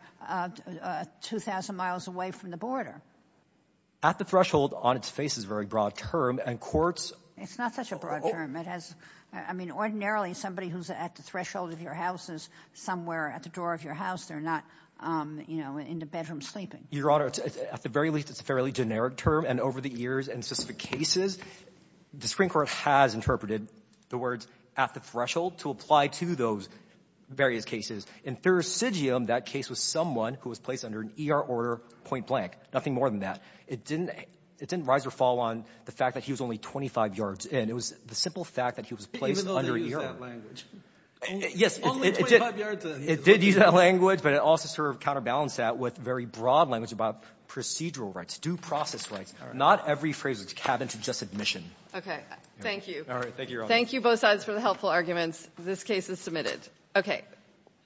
2,000 miles away from the border. At the threshold on its face is a broad term. It's not such a broad term. Ordinarily somebody at the threshold of your house is not in the bedroom sleeping. At the very least it's a generic term. The Supreme Court has interpreted the words at the threshold to apply to those cases. Thursidium that case was someone placed under an E.R. order point blank. It didn't fall on the fact he was only 25 yards. It did use that language but counterbalanced that with very broad language about procedural rights, due process rights. Not a generic